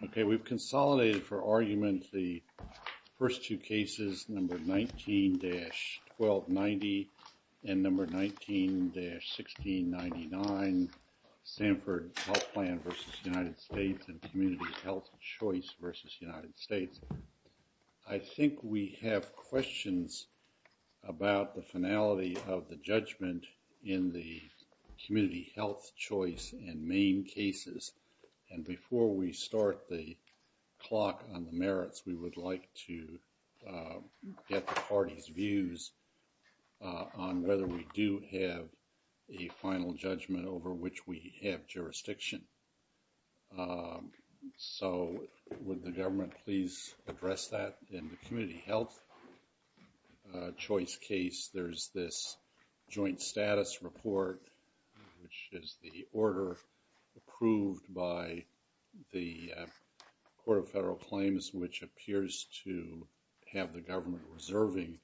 and Community Health Choice v. United States. I think we have questions about the finality of the judgment in the Community Health Choice and Maine cases. And before we start the clock on the merits, we would like to get the parties' views on whether we do have a final judgment over which we have jurisdiction. So would the government please address that in the Community Health Choice case, there's this joint status report, which is the order approved by the Court of Federal Claims, which appears to have the government reserving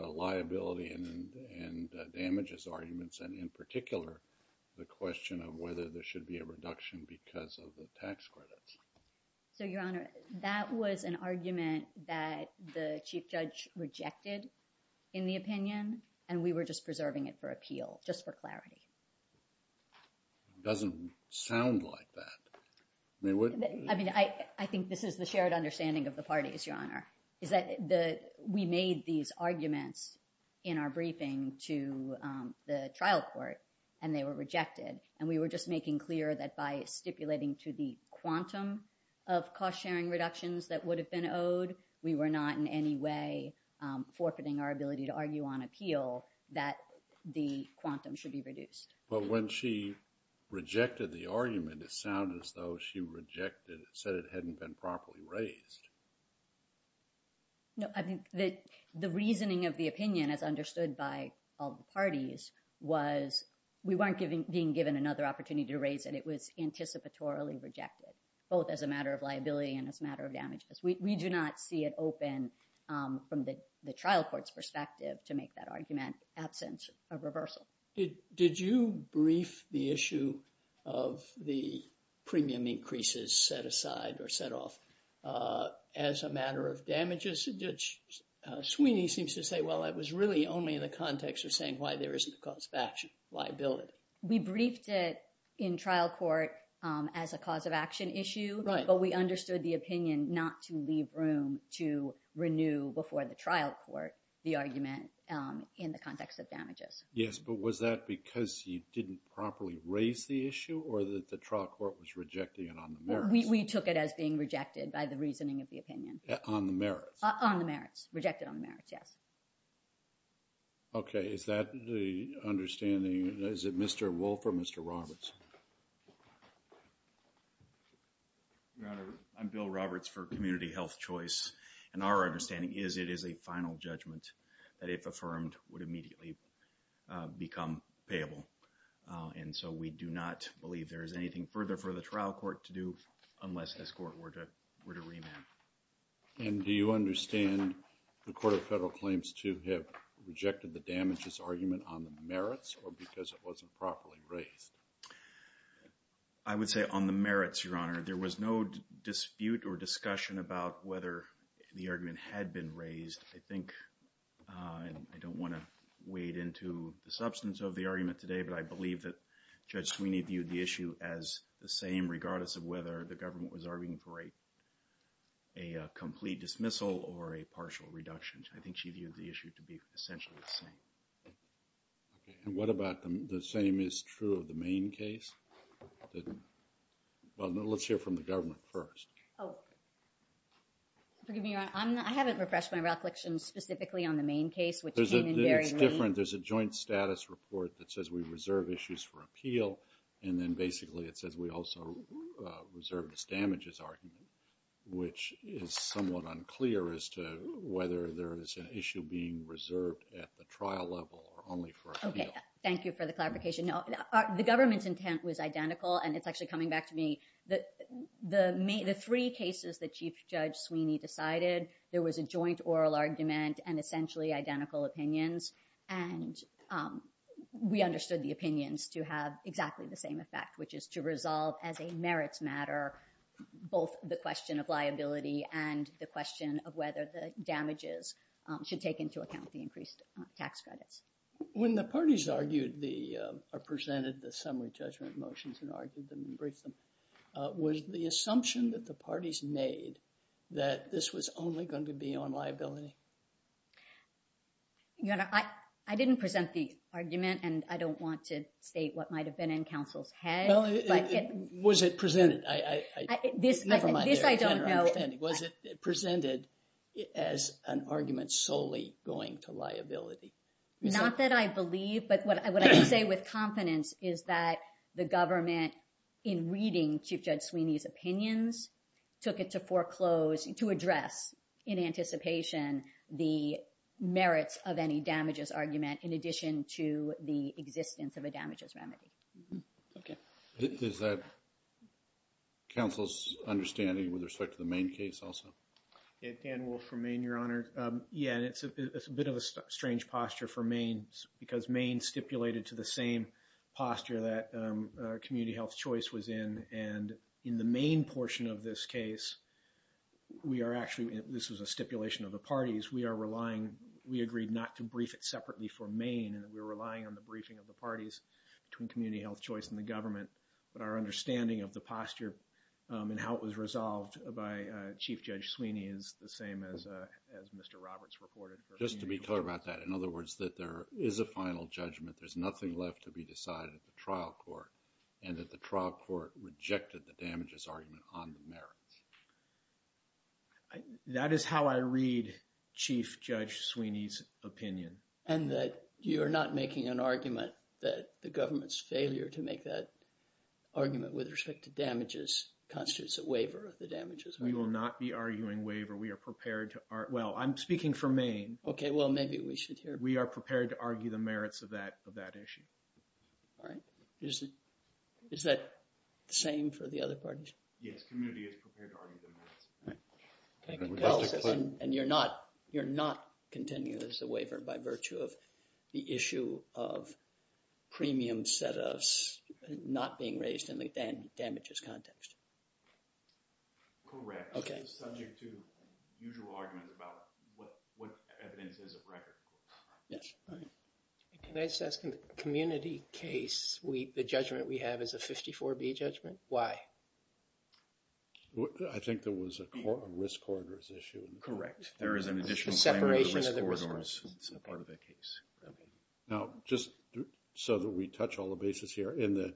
liability and damages arguments, and in particular, the question of whether there should be a reduction because of the tax credits. So, Your Honor, that was an argument that the Chief Judge rejected in the opinion and we were just preserving it for appeal, just for clarity. It doesn't sound like that. I mean, I think this is the shared understanding of the parties, Your Honor, is that we made these arguments in our briefing to the trial court and they were rejected. And we were just making clear that by stipulating to the quantum of cost-sharing reductions that would have been owed, we were not in any way forfeiting our ability to argue on appeal that the quantum should be reduced. But when she rejected the argument, it sounded as though she said it hadn't been properly raised. No, I think that the reasoning of the opinion, as understood by all the parties, was we weren't being given another opportunity to raise and it was anticipatorily rejected, both as a matter of liability and as a matter of damages. We do not see it open from the trial court's perspective to make that argument, absence of reversal. Did you brief the issue of the premium increases set aside or set off as a matter of damages? Sweeney seems to say, well, it was really only the context of saying why there isn't a cause of action liability. We briefed it in trial court as a cause of action issue, but we understood the opinion not to leave room to renew before the trial court, the argument in the context of damages. Yes, but was that because you didn't properly raise the issue or that the trial court was rejecting it on the merits? We took it as being by the reasoning of the opinion. On the merits? On the merits. Rejected on the merits, yes. Okay, is that the understanding? Is it Mr. Wolfe or Mr. Roberts? Your Honor, I'm Bill Roberts for Community Health Choice, and our understanding is it is a final judgment that if affirmed would immediately become payable, and so we do not believe there is anything further for the trial court to do unless this court were to remand. And do you understand the Court of Federal Claims to have rejected the damages argument on the merits or because it wasn't properly raised? I would say on the merits, Your Honor. There was no dispute or discussion about whether the argument had been raised. I think, I don't want to wade into the substance of the argument today, but I believe Judge Sweeney viewed the issue as the same regardless of whether the government was arguing for a complete dismissal or a partial reduction. I think she viewed the issue to be essentially the same. What about the same is true of the main case? Well, let's hear from the government first. I haven't refreshed my reflection specifically on the main case. There's a joint status report that says we reserve issues for appeal, and then basically it says we also reserve this damages argument, which is somewhat unclear as to whether there is an issue being reserved at the trial level or only for appeal. Thank you for the clarification. The government's intent was identical, and it's actually coming back to me. The three cases that Chief Judge Sweeney decided, there was a joint oral argument and essentially identical opinions, and we understood the opinions to have exactly the same effect, which is to resolve as a merits matter both the question of liability and the question of whether the damages should take into account the increased tax credit. When the parties argued or presented the made that this was only going to be on liability? I didn't present the argument, and I don't want to state what might have been in counsel's head. Was it presented as an argument solely going to liability? Not that I believe, but what I would say with confidence is that the government in reading Chief Judge Sweeney's opinions took it to foreclose to address in anticipation the merits of any damages argument in addition to the existence of a damages remedy. Is that counsel's understanding with respect to the main case also? Dan Wolfe from Maine, Your Honor. Yeah, it's a bit of a strange posture for Maine because Maine stipulated to the same posture that Community Health Choice was in. In the main portion of this case, this was a stipulation of the parties, we agreed not to brief it separately for Maine. We were relying on the briefing of the parties between Community Health Choice and the government, but our understanding of the posture and how it was resolved by Chief Judge Sweeney is the same as Mr. Roberts reported. Just to be clear about that, in other words, that there is a final judgment. There's nothing left to be decided at the trial court and that the trial court rejected the damages argument on the merits. That is how I read Chief Judge Sweeney's opinion. And that you're not making an argument that the government's failure to make that argument with respect to damages constitutes a waiver of the damages. We will not be arguing waiver. We are prepared to... Well, I'm speaking for Maine. Okay. Well, maybe we should hear... We are prepared to argue the merits of that issue. All right. Is that the same for the other parties? Yes. Community is prepared to argue the merits. All right. And you're not continuing as a waiver by virtue of the issue of premium set-ups not being raised in the damages context? Correct. Okay. It's subject to usual arguments about what evidence is of record. Yes. All right. Can I just ask, in the community case, the judgment we have is a 54B judgment? Why? I think there was a risk corridors issue. Correct. There is an additional separation of the risk corridors as part of that case. Now, just so that we touch all the bases here, in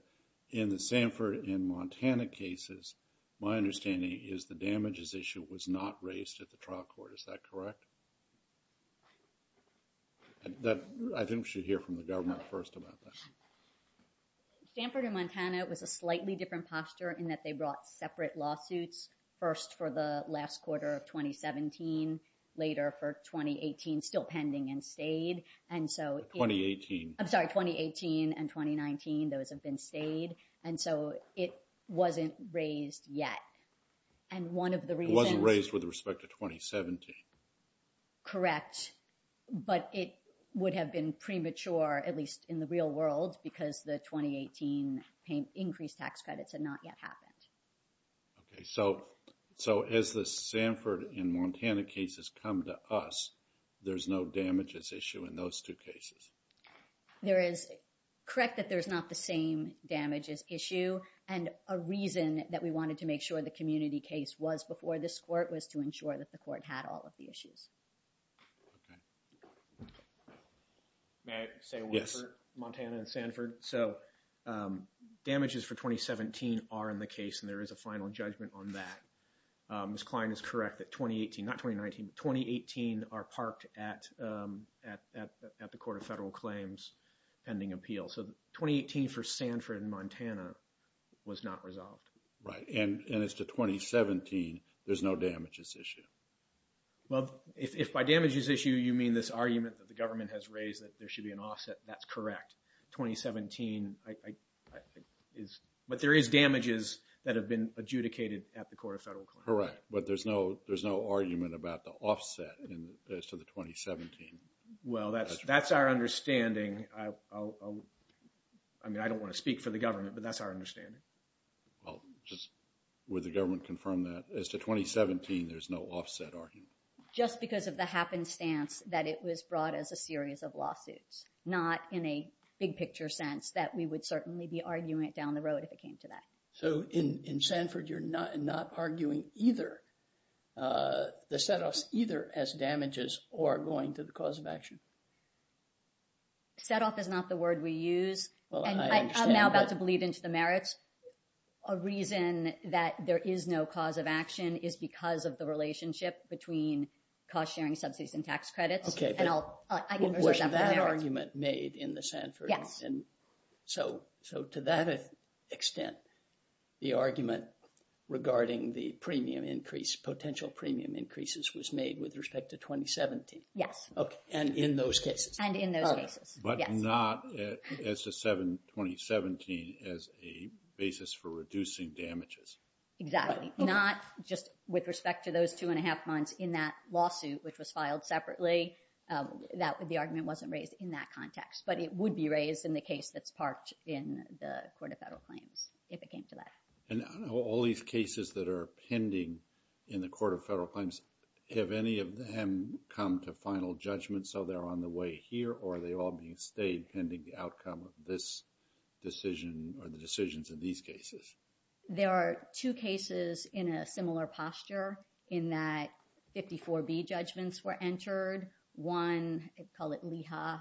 the Sanford and Montana cases, my understanding is the damages issue was not raised at the trial court. Is that correct? I think we should hear from the government first about that. Sanford and Montana was a slightly different posture in that they brought separate lawsuits first for the last quarter of 2017, later for 2018, still pending and stayed. And so... 2018. I'm sorry, 2018 and 2019, those have been stayed. And so, it wasn't raised yet. And one of the reasons... It wasn't raised with respect to 2017. Correct. But it would have been premature, at least in the real world, because the 2018 increased tax credits had not yet happened. Okay. So, as the Sanford and Montana cases come to us, there's no damages issue in those two cases. There is... Correct that there's not the same damages issue. And a reason that we wanted to make sure the community case was before this court was to ensure that the court had all of the issues. May I say one thing? Yes. Montana and Sanford. So, damages for 2017 are in the case and there is a final judgment on that. Ms. Klein is correct that 2018, not 2019, 2018 are parked at the Court of Federal Claims ending appeal. So, 2018 for Sanford and Montana was not resolved. Right. And as to 2017, there's no damages issue. Well, if by damages issue, you mean this argument that the government has raised that there should be an offset, that's correct. 2017 is... But there is damages that have been adjudicated at the Court of Federal Claims. Correct. But there's no argument about the offset as to the 2017. Well, that's our understanding. I mean, I don't want to speak for the government, but that's our understanding. Well, just would the government confirm that as to 2017, there's no offset argument? Just because of the happenstance that it was brought as a series of lawsuits, not in a big picture sense that we would certainly be arguing either the set-offs either as damages or going to the cause of action. Set-off is not the word we use. I'm now about to believe into the merits. A reason that there is no cause of action is because of the relationship between cost-sharing subsidies and tax credits. Okay. And I'll... Was that argument made in the Sanford? Yes. And so, to that extent, the argument regarding the premium increase, potential premium increases was made with respect to 2017. Yes. Okay. And in those cases. And in those cases. But not as a 2017 as a basis for reducing damages. Exactly. Not just with respect to those two and a half months in that lawsuit, which was filed separately. The argument wasn't raised in that context, but it would be raised in the case that's parked in the Court of Federal Claims, if it came to that. And all these cases that are pending in the Court of Federal Claims, have any of them come to final judgment so they're on the way here or are they all being stayed pending the outcome of this decision or the decisions in these cases? There are two cases in a similar posture in that 54B judgments were entered. One, it's called Leha.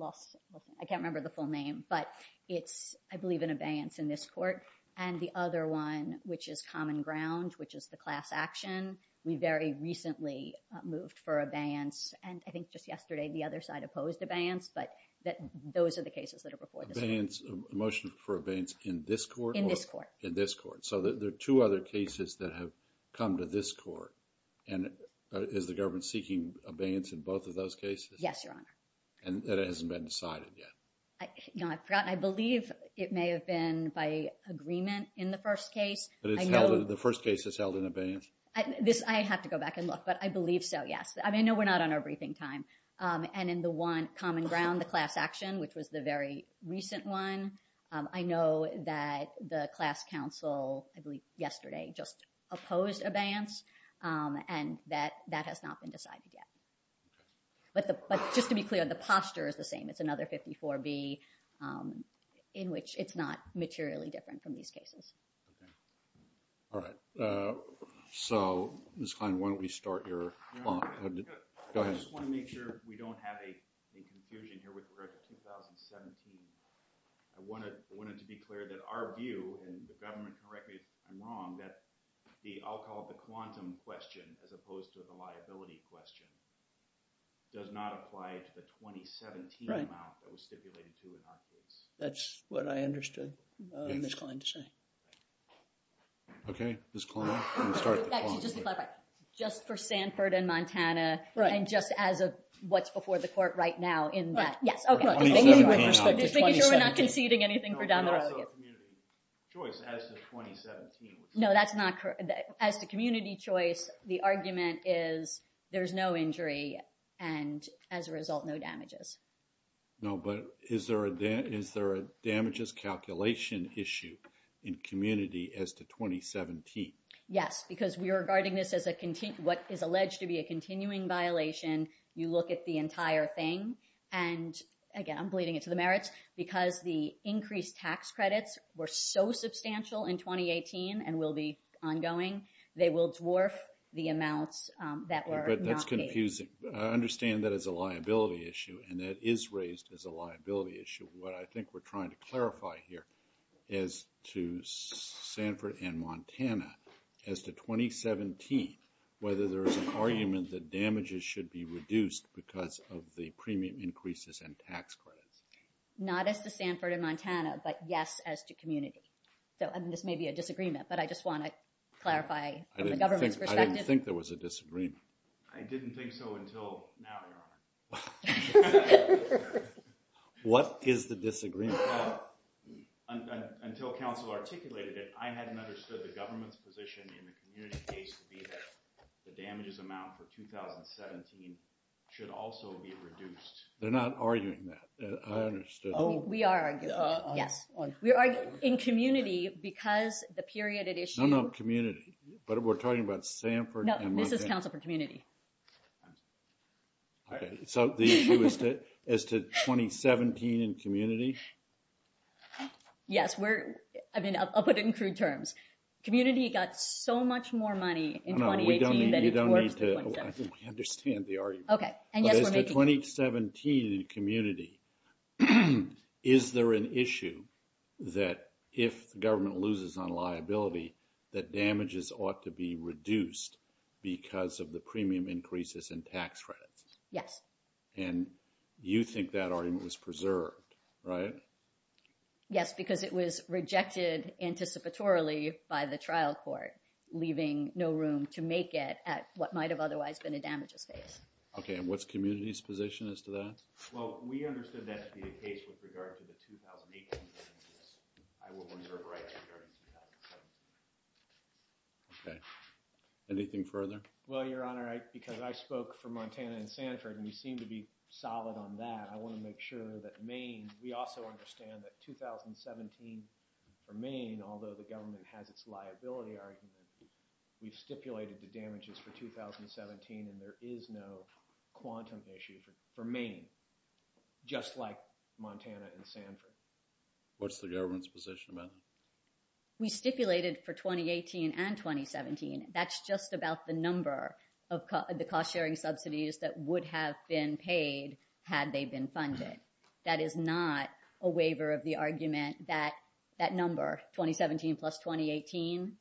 I can't remember the full name, but it's, I believe, an abeyance in this court. And the other one, which is common ground, which is the class action, we very recently moved for abeyance. And I think just yesterday, the other side opposed abeyance, but those are the cases that are before the court. Abeyance, a motion for abeyance in this court? In this court. In this court. So there are two other cases that have come to this court. And is the government seeking abeyance in both of those cases? Yes, Your Honor. And that hasn't been decided yet? I believe it may have been by agreement in the first case. The first case that's held in abeyance? I have to go back and look, but I believe so, yes. I mean, I know we're not on our briefing time. And in the one common ground, the class action, which was the very recent one, I know that the class counsel, I believe yesterday, just opposed abeyance. And that has not been decided yet. But just to be clear, the posture is the same. It's another 54B, in which it's not materially different from these cases. All right. So, Ms. Klein, why don't we start your clock? I just want to make sure we don't have a confusion here with the 2017. I wanted to be clear that our view, and the government can correct me if I'm wrong, that the, I'll call it the quantum question, as opposed to the liability question, does not apply to the 2017 amount that was stipulated. That's what I understood Ms. Klein to say. Okay, Ms. Klein, you can start. Just for Stanford and Montana, and just as of what's before the court right now in that. Okay. I'm just making sure we're not conceding anything. No, that's not correct. As the community choice, the argument is there's no injury, and as a result, no damages. No, but is there a damages calculation issue in community as to 2017? Yes, because we're regarding this as what is alleged to be a continuing violation. You look at the entire thing, and again, I'm bleeding it to the merits, because the increased tax credits were so substantial in 2018, and will be ongoing, they will dwarf the amounts that were not paid. That's confusing. I understand that as a liability issue, and that is raised as a liability issue. What I think we're trying to clarify here is to Stanford and Montana, as to 2017, whether there is an argument that damages should be reduced because of the premium increases and tax credit. Not as to Stanford and Montana, but yes, as to community. This may be a disagreement, but I just want to clarify from the government's perspective. I didn't think there was a disagreement. I didn't think so until now, Your Honor. What is the disagreement? Until counsel articulated it, I hadn't understood the government's position in the community case to be that the damages amount for 2017 should also be reduced. They're not arguing that. I understood. We are arguing, yes. We are in community, because the period of issue- No, no, community, but we're talking about Stanford and Montana. No, this is counsel for community. Okay, so the issue is to 2017 in community? Yes, I'll put it in crude terms. Community got so much more money in 2018 than- No, we don't need to understand the argument. Okay, and yet we're making- But in the 2017 community, is there an issue that if government loses on liability, that damages ought to be reduced because of the premium increases and tax credits? Yes. And you think that argument is preserved, right? Yes, because it was rejected anticipatorily by the trial court, leaving no room to make it at what might have otherwise been a damage affair. Okay, and what's the community's position as to that? Well, we understood that to be the case with regard to the 2018 damages. I will reserve rights regarding 2017. Okay. Anything further? Well, Your Honor, because I spoke for Montana and Stanford, and you seem to be solid on that, I want to make sure that Maine- We also understand that 2017 for Maine, although the government has its liability argument, we've stipulated the damages for 2017, and there is no quantum issue for Maine, just like Montana and Stanford. What's the government's position, ma'am? We stipulated for 2018 and 2017. That's just about the number of the cost-sharing subsidies that would have been paid had they been funded. That is not a waiver of the argument that that number, 2017 plus 2018,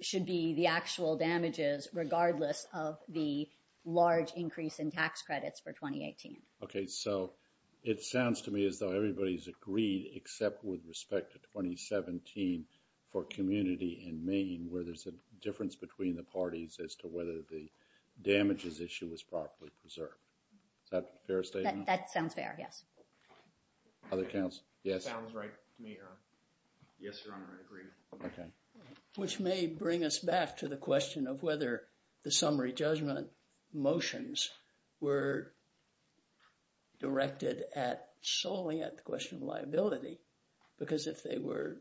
should be the actual damages, regardless of the large increase in tax credits for 2018. Okay, so it sounds to me as though everybody's agreed, except with respect to 2017 for community in Maine, where there's a difference between the parties as to whether the summary judgment motions were directed at solely at the question of liability, because if the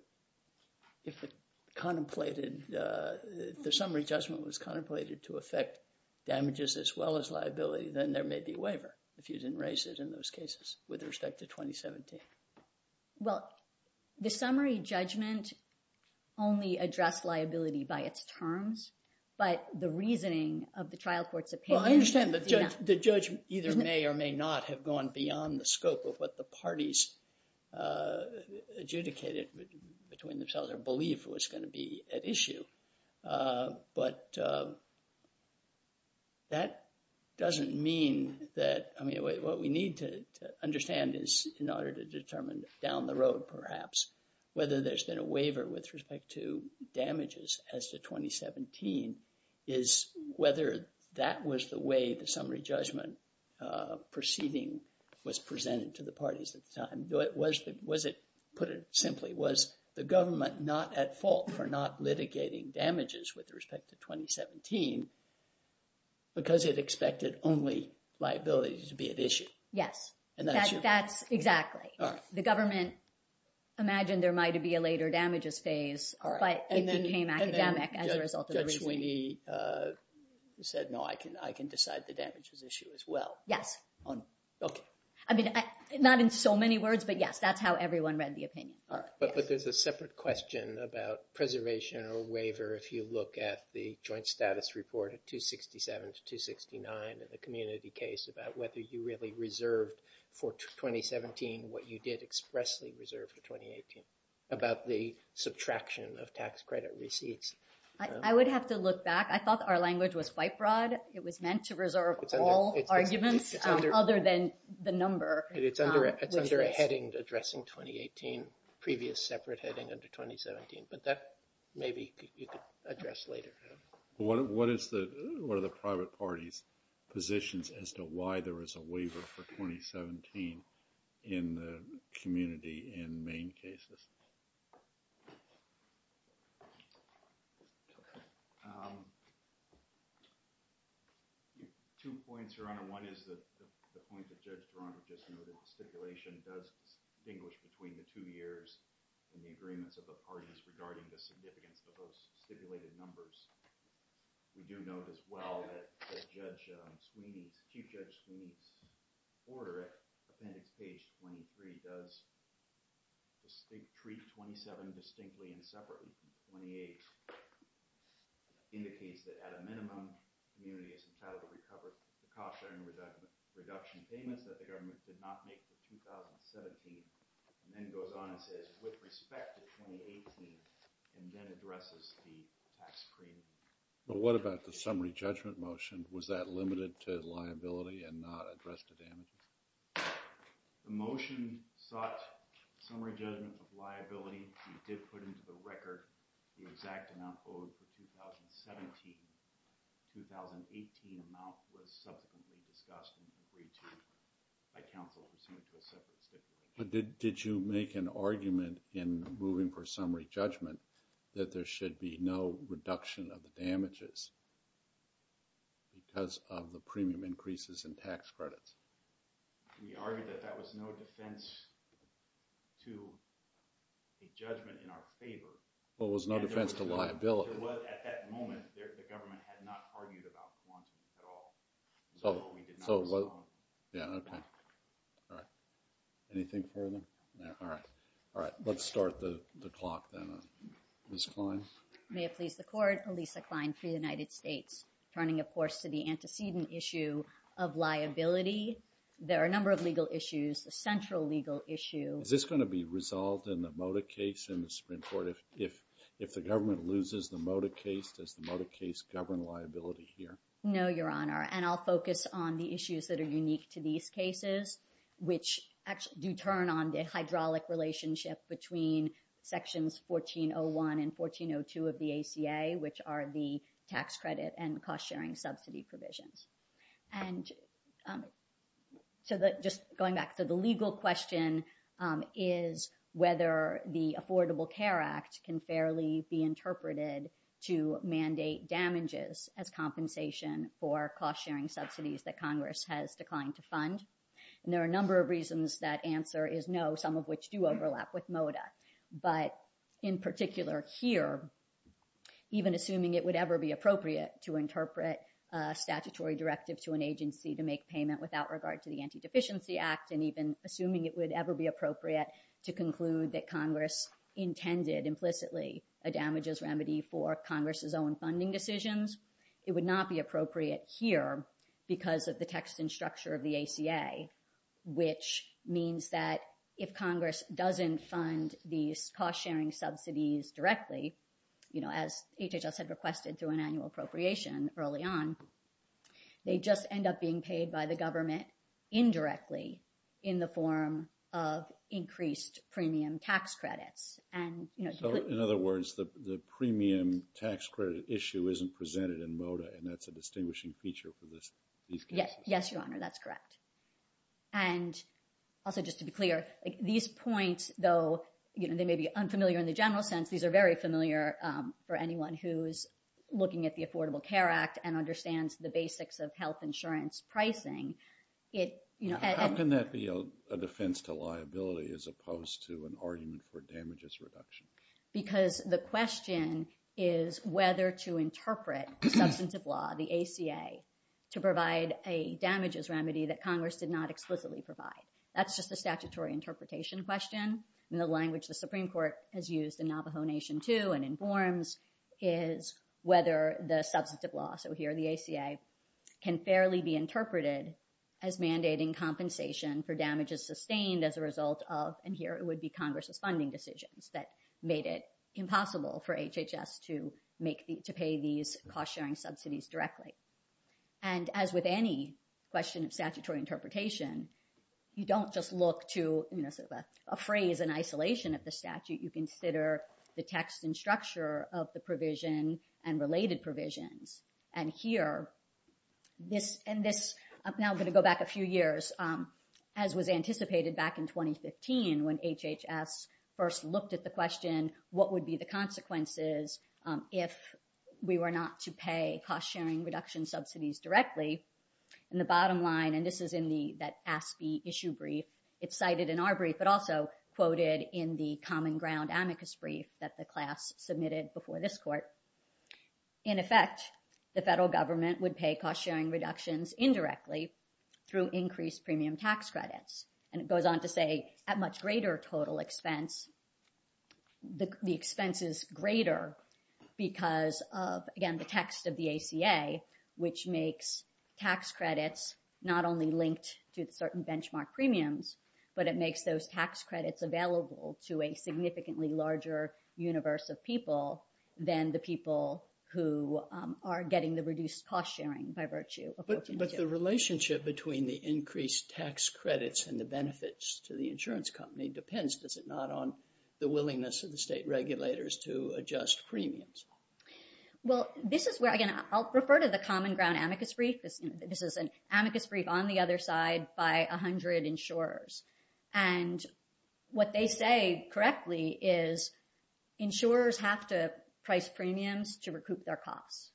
summary judgment was contemplated to affect damages as well as liability, then there may be a waiver, if you didn't raise it in those cases with respect to 2017. Well, the summary judgment only addressed liability by its terms, but the reasoning of the trial court's opinion- Well, I understand the judgment either may or may not have gone beyond the scope of what the parties adjudicated between themselves or believed was going to be at issue, but that doesn't mean that- I mean, what we need to understand is, in order to determine down the road, perhaps, whether there's been a waiver with respect to damages as to 2017, is whether that was the way the summary judgment proceeding was presented to the parties at the government, not at fault for not litigating damages with respect to 2017, because it expected only liabilities to be at issue. Yes, that's exactly. The government imagined there might be a later damages phase, but it became academic as a result of- That's when he said, no, I can decide the damage at issue as well. Yes. I mean, not in so many words, but yes, that's how everyone read the opinion. But there's a separate question about preservation or waiver if you look at the joint status report of 267 to 269 in the community case about whether you really reserved for 2017 what you did expressly reserve for 2018 about the subtraction of tax credit receipts. I would have to look back. I thought our language was white fraud. It was meant to reserve all arguments other than the number. It's under a heading addressing 2018. Previous separate heading under 2017, but that maybe you could address later. What are the private parties' positions as to why there was a waiver for 2017 in the community in main cases? Two points, Your Honor. One is the point that Judge Barona just made. The stipulation does distinguish between the two years and the agreements of the parties regarding the significance of those stipulated numbers. We do know as well that Chief Judge Sweeney's order at page 23 does treat 27 distinctly and separately from 28. It indicates that at a minimum, the community is entitled to recover the cost of the reduction payment that the government did not make for 2017 and then goes on and says with respect to 2018 and then addresses the tax credit. But what about the summary judgment motion? Was that limited to liability and not addressed today? The motion sought summary judgment of liability. We did put into the record the exact amount owed for 2017. The 2018 amount was substantively reduced. Did you make an argument in moving for summary judgment that there should be no reduction of the damages because of the premium increases in tax credits? We argued that that was no defense to the judgment in our favor. Well, it was no defense to liability. At that moment, the government had not argued about the monies at all. So we did not talk about it. Yeah, okay. All right. Anything further? No. All right. All right. Let's start the clock then on Lisa Klein. May it please the court, Alisa Klein for the United States. Turning, of course, to the antecedent issue of liability, there are a number of legal issues. The central legal issue... Is this going to be resolved in the Moda case? If the government loses the Moda case, does the Moda case govern liability here? No, Your Honor. And I'll focus on the issues that are unique to these cases, which do turn on the hydraulic relationship between sections 1401 and 1402 of the ACA, which are the tax credit and cost-sharing subsidy provisions. And so just going back to the legal question is whether the Affordable Care Act can fairly be interpreted to mandate damages as compensation for cost-sharing subsidies that Congress has declined to fund. And there are a number of reasons that answer is no, some of which do overlap with Moda. But in particular here, even assuming it would ever be appropriate to interpret a statutory directive to an agency to make payment without regard to the Anti-Deficiency Act, and even assuming it would ever be appropriate to conclude that Congress intended implicitly a damages remedy for Congress's own funding decisions, it would not be appropriate here because of the text and structure of the ACA, which means that if Congress doesn't fund these cost-sharing subsidies directly, as HHS had requested through an annual appropriation early on, they just end up being paid by the government indirectly in the form of increased premium tax credits. So in other words, the premium tax credit issue isn't presented in Moda, and that's a distinguishing feature for these cases? Yes, Your Honor, that's correct. And also just to be clear, these points, though they may be unfamiliar in the general sense, these are very familiar for anyone who's looking at the Affordable Care Act and understands the basics of health insurance pricing. How can that be a defense to liability as opposed to an argument for damages reduction? Because the question is whether to interpret the substance of law, the ACA, to provide a damages remedy that Congress did not explicitly provide. That's just a statutory interpretation question. And the language the Supreme Court has used in Navajo Nation too and in forms is whether the substance of law, so here the ACA, can fairly be interpreted as mandating compensation for damages sustained as a result of, and here it would be Congress's funding decisions that made it impossible for HHS to pay these cost-sharing subsidies directly. And as with any question of statutory interpretation, you don't just look to a phrase in isolation of the statute. You consider the text and structure of the provision and related provisions. And here, and now I'm going to go back a few years, as was anticipated back in 2015 when HHS first looked at the question, what would be the consequences if we were not to pay cost-sharing reduction subsidies directly? And the bottom line, and this is in that ASPE issue brief, it's cited in our brief, but also quoted in the Common Ground amicus brief that the class submitted before this court. In effect, the federal government would pay cost-sharing reductions indirectly through increased premium tax credits. And it goes on to say at much greater total expense, the expense is greater because of, again, the text of the ACA, which makes tax credits not only linked to certain benchmark premiums, but it makes those tax credits available to a significantly larger universe of people than the people who are getting the reduced cost-sharing by virtue. But the relationship between the increased tax credits and the benefits to the the willingness of the state regulators to adjust premiums. Well, this is where, again, I'll refer to the Common Ground amicus brief. This is an amicus brief on the other side by 100 insurers. And what they say correctly is insurers have to price premiums to recoup their costs.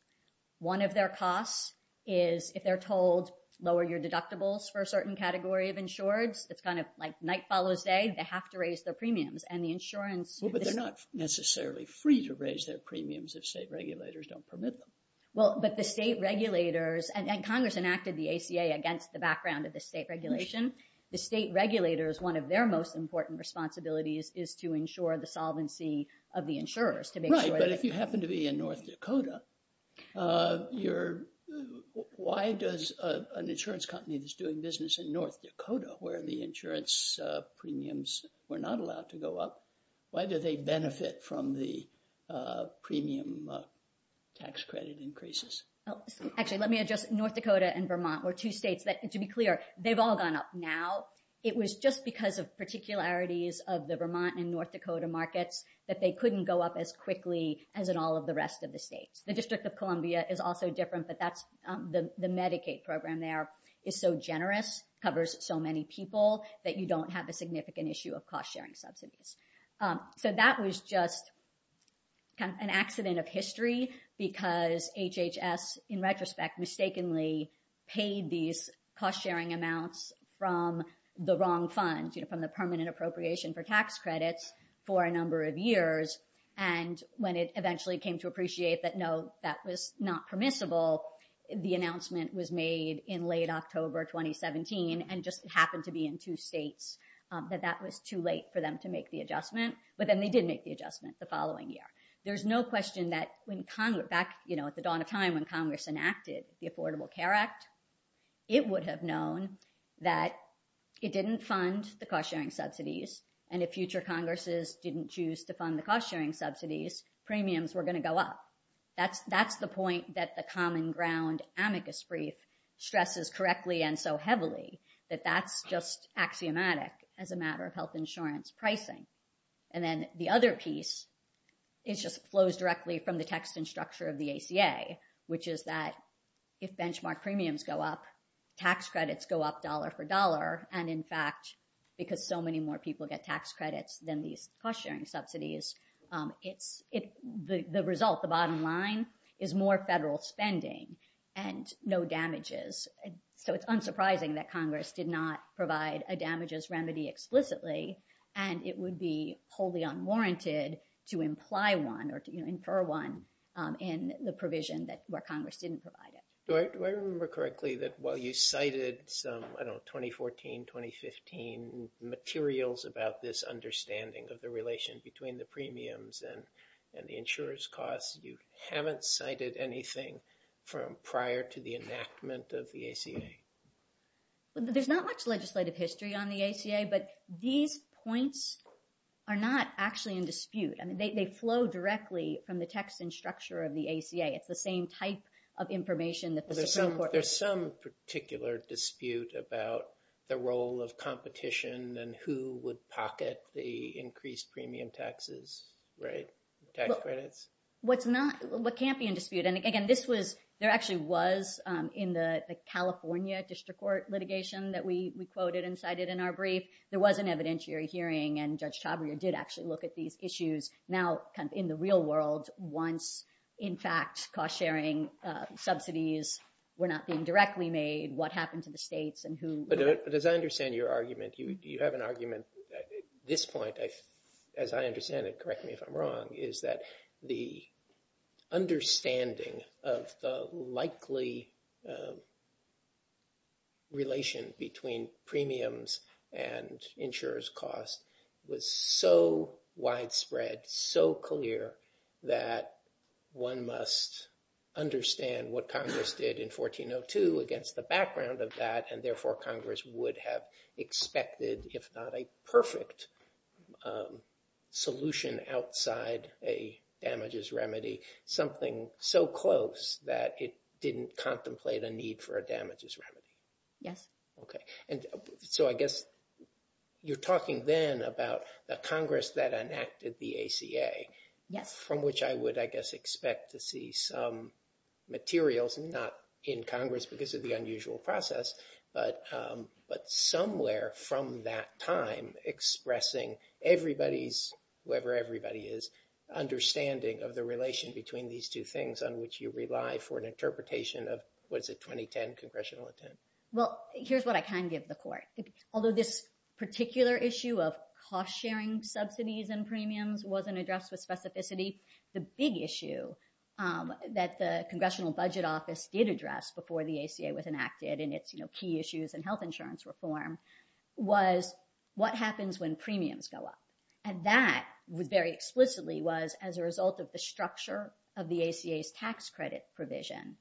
One of their costs is if they're told, lower your deductibles for a certain category of insureds, it's kind of like night follows day, they have to raise their premiums. And the insurance... Well, but they're not necessarily free to raise their premiums if state regulators don't permit them. Well, but the state regulators, and Congress enacted the ACA against the background of the state regulation, the state regulators, one of their most important responsibilities is to ensure the solvency of the insurers. Right, but if you happen to be in North Dakota, you're... Why does an insurance company that's doing business in North Dakota, where the insurance premiums were not allowed to go up, why do they benefit from the premium tax credit increases? Actually, let me address North Dakota and Vermont were two states that, to be clear, they've all gone up. Now, it was just because of particularities of the Vermont and North Dakota markets that they couldn't go up as quickly as in all of the rest of the state. The District of Columbia is also different, but that's the Medicaid program there. It's so generous, covers so many people that you don't have a significant issue of cost-sharing subsidies. So that was just an accident of history because HHS, in retrospect, mistakenly paid these cost-sharing amounts from the wrong fund, from the permanent appropriation for tax credits for a number of years. And when it eventually came to appreciate that, no, that was not permissible, the announcement was made in late October, 2017, and just happened to be in two states, that that was too late for them to make the adjustment. But then they did make the adjustment the following year. There's no question that when Congress... Back at the dawn of time when Congress enacted the Affordable Care Act, it would have known that it didn't fund the cost-sharing subsidies. And if future Congresses didn't choose to fund the cost-sharing subsidies, premiums were going to go up. That's the point that the common ground amicus brief stresses correctly and so heavily, that that's just axiomatic as a matter of health insurance pricing. And then the other piece, it just flows directly from the text and structure of the ACA, which is that if benchmark premiums go up, tax credits go up dollar for dollar. And in fact, because so many more people get tax credits than these cost-sharing subsidies, the result, the bottom line, is more federal spending and no damages. So it's unsurprising that Congress did not provide a damages remedy explicitly, and it would be wholly unwarranted to imply one or to infer one in the provision where Congress didn't provide it. Do I remember correctly that while you cited some, I don't know, 2014, 2015 materials about this understanding of the relation between the premiums and the insurance costs, you haven't cited anything from prior to the enactment of the ACA? There's not much legislative history on the ACA, but these points are not actually in dispute. I mean, they flow directly from the text and There's some particular dispute about the role of competition and who would pocket the increased premium taxes, right? What's not, what can't be in dispute, and again, this was, there actually was in the California district court litigation that we quoted and cited in our brief. There was an evidentiary hearing, and Judge Taubman did actually look at these issues now in the real world once, in fact, cost-sharing subsidies were not being directly made, what happens in the states and who- But as I understand your argument, you have an argument at this point, as I understand it, correct me if I'm wrong, is that the understanding of the likely relation between premiums and insurers costs was so widespread, so clear that one must understand what Congress did in 1402 against the background of that, and therefore Congress would have expected, if not a perfect solution outside a damages remedy, something so close that it didn't contemplate a need for a So I guess you're talking then about the Congress that enacted the ACA, from which I would, I guess, expect to see some materials, not in Congress because of the unusual process, but somewhere from that time expressing everybody's, whoever everybody is, understanding of the relation between these two things on which you rely for an interpretation of what's a 2010 congressional Well, here's what I can give the court. Although this particular issue of cost-sharing subsidies and premiums wasn't addressed with specificity, the big issue that the Congressional Budget Office did address before the ACA was enacted in its key issues and health insurance reform was what happens when premiums go up, and that very explicitly was as a result of the structure of the ACA's tax credit provision.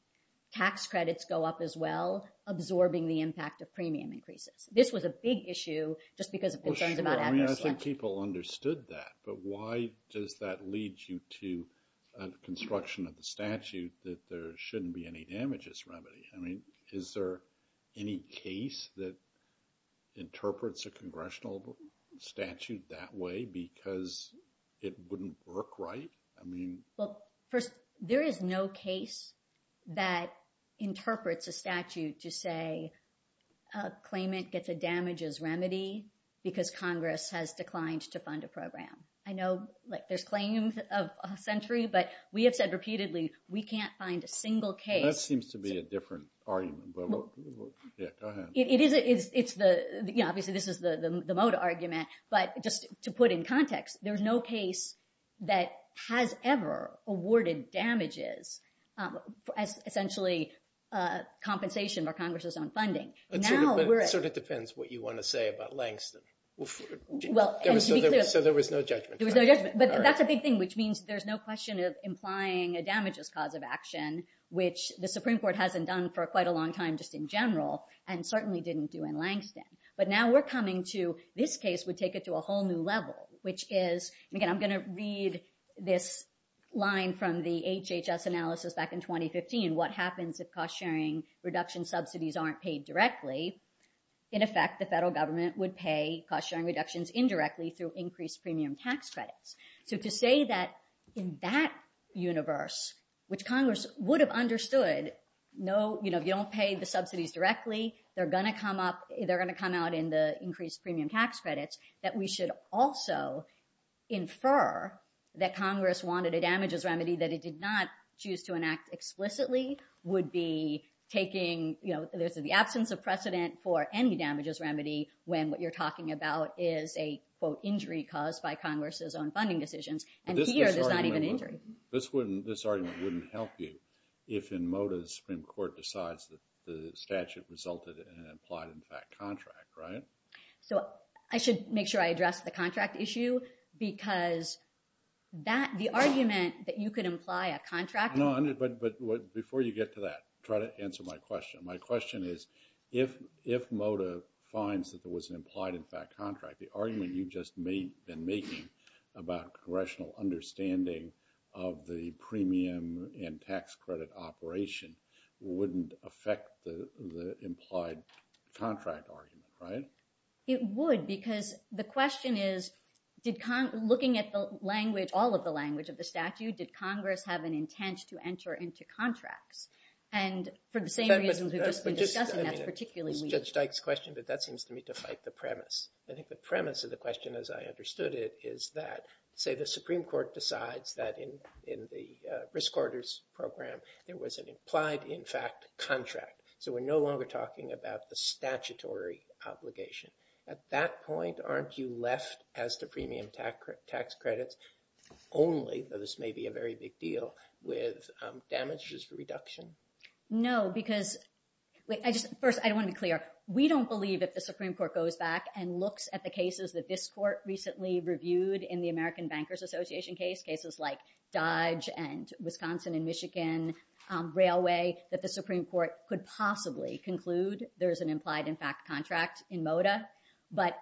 Tax credits go up as well, absorbing the impact of premium increases. This was a big issue, just because it depends on that. I think people understood that, but why does that lead you to a construction of a statute that there shouldn't be any damages remedy? I mean, is there any case that interprets a congressional statute that way because it wouldn't work right? Well, first, there is no case that interprets a statute to say a claimant gets a damages remedy because Congress has declined to fund a program. I know there's claims of a century, but we have said repeatedly, we can't find a single case. That seems to be a different argument, but yeah, go ahead. It is. Obviously, this is the motive argument, but just to put in context, there's no case that has ever awarded damages as essentially compensation for Congress's own funding. It depends what you want to say about Langston, so there was no judgment. That's a big thing, which means there's no question of implying a damages cause of action, which the Supreme Court hasn't done for quite a long time just in general and certainly didn't do in Langston, but now we're coming to this case would take it to a whole new level, which is, again, I'm going to read this line from the HHS analysis back in 2015, what happens if cost sharing reduction subsidies aren't paid directly. In effect, the federal government would pay cost sharing reductions indirectly through increased premium tax credit. To say that in that universe, which Congress would have understood, if you don't pay the subsidies directly, they're going to come out in the increased premium tax credits, that we should also infer that Congress wanted a damages remedy that it did not choose to enact explicitly would be taking, this is the absence of precedent for any damages remedy when what you're talking about is a, quote, wouldn't help you if in Mota's Supreme Court decides that the statute resulted in an implied in fact contract, right? So I should make sure I address the contract issue because the argument that you could imply a contract... No, but before you get to that, try to answer my question. My question is, if Mota finds that there was an implied in fact contract, the argument you have just been making about congressional understanding of the premium and tax credit operation wouldn't affect the implied contract argument, right? It would, because the question is, did Congress, looking at the language, all of the language of the statute, did Congress have an intent to enter into contracts? And for the same reasons we've just been discussing, that's particularly weak. That seems to me to fight the premise. I think the premise of the question as I understood it is that, say the Supreme Court decides that in the risk orders program, there was an implied in fact contract. So we're no longer talking about the statutory obligation. At that point, aren't you left as the premium tax credit only, though this may be a very big deal, with damages reduction? No, because, first, I want to be clear. We don't believe that the Supreme Court recently reviewed in the American Bankers Association case, cases like Dodge and Wisconsin and Michigan Railway, that the Supreme Court could possibly conclude there's an implied in fact contract in Mota. But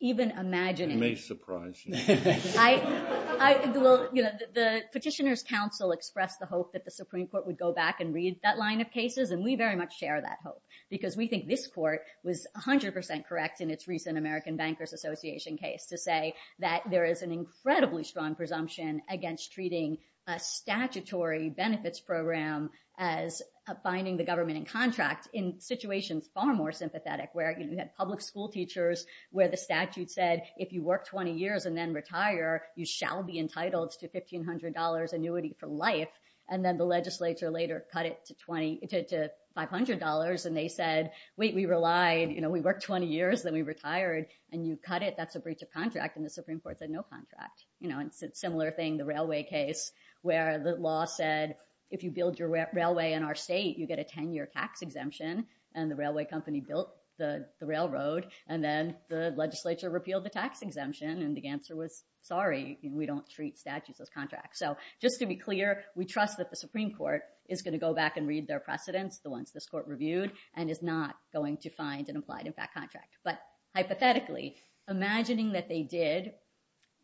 even imagining... It may surprise you. The Petitioner's Council expressed the hope that the Supreme Court would go back and read that line of cases, and we very much share that hope, because we think this court was 100% correct in its recent American Bankers Association case to say that there is an incredibly strong presumption against treating a statutory benefits program as finding the government in contract in situations far more sympathetic, where you had public school teachers where the statute said, if you work 20 years and then retire, you shall be entitled to $1,500 annuity for life. And then the legislature later cut it to $500, and they said, wait, we relied. We worked 20 years, then we retired, and you cut it. That's a breach of contract. And the Supreme Court said, no contract. Similar thing, the railway case, where the law said, if you build your railway in our state, you get a 10-year tax exemption. And the railway company built the railroad, and then the legislature repealed the tax exemption. And the answer was, sorry, we don't treat statutes as contracts. So just to be clear, we trust that the Supreme Court is going to go back and read their precedents, the ones this court reviewed, and is not going to find an implied impact contract. But hypothetically, imagining that they did,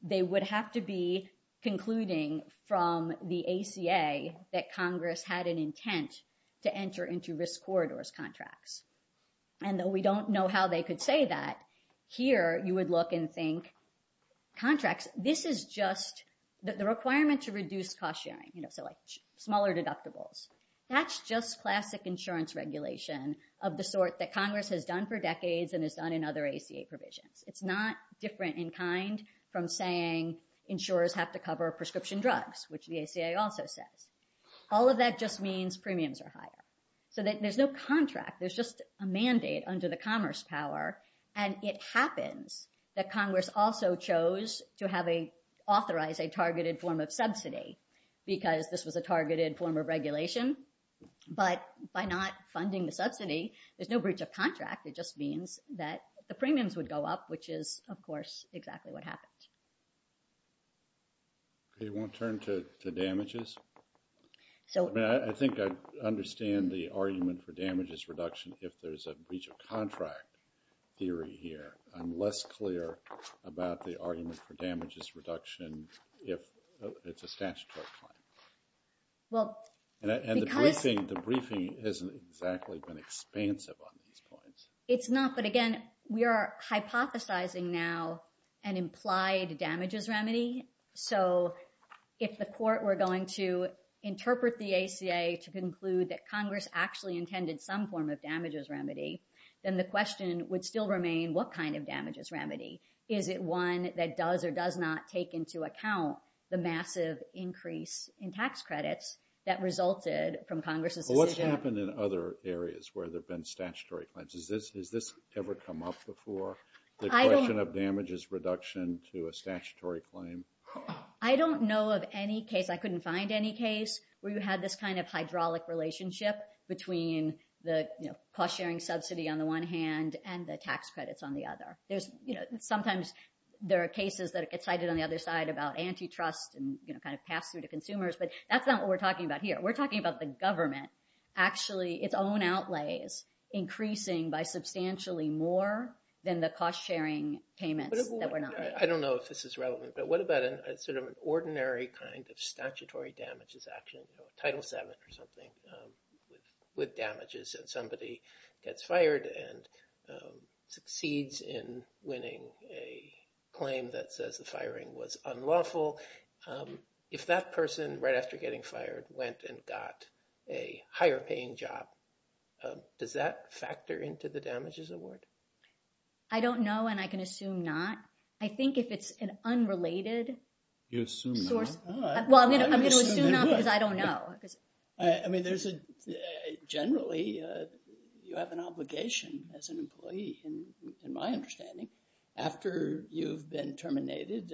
they would have to be concluding from the ACA that Congress had an intent to enter into risk corridors contracts. And though we don't know how they could say that, here you would look and think, contracts, this is just the requirement to insurance regulation of the sort that Congress has done for decades and has done in other ACA provisions. It's not different in kind from saying insurers have to cover prescription drugs, which the ACA also said. All of that just means premiums are higher. So there's no contract. There's just a mandate under the commerce power. And it happens that Congress also chose to authorize a targeted form of subsidy because this was a targeted form of regulation. But by not funding the subsidy, there's no breach of contract. It just means that the premiums would go up, which is, of course, exactly what happened. It won't turn to the damages. I think I understand the argument for damages reduction if there's a breach of contract theory here. I'm less clear about the if it's a statutory claim. And the briefing isn't exactly been expansive on these points. It's not. But again, we are hypothesizing now an implied damages remedy. So if the court were going to interpret the ACA to conclude that Congress actually intended some form of damages remedy, then the question would still remain, what kind of damages remedy? Is it one that does or does not take into account the massive increase in tax credits that resulted from Congress's decision? What's happened in other areas where there have been statutory claims? Has this ever come up before, the question of damages reduction to a statutory claim? I don't know of any case. I couldn't find any case where you had this kind of hydraulic relationship between the cost-sharing subsidy on the one hand and the tax credits on the other. Sometimes there are cases that get cited on the other side about antitrust and pass through to consumers. But that's not what we're talking about here. We're talking about the government actually its own outlays increasing by substantially more than the cost-sharing payment. I don't know if this is relevant, but what about an ordinary kind of statutory damages action, Title VII or something, with damages and somebody gets fired and succeeds in winning a claim that says the firing was unlawful. If that person right after getting fired went and got a higher paying job, does that factor into the damages award? I don't know and I can assume not. I think if it's an unrelated source. I mean, generally, you have an obligation as an employee in my understanding. After you've been terminated,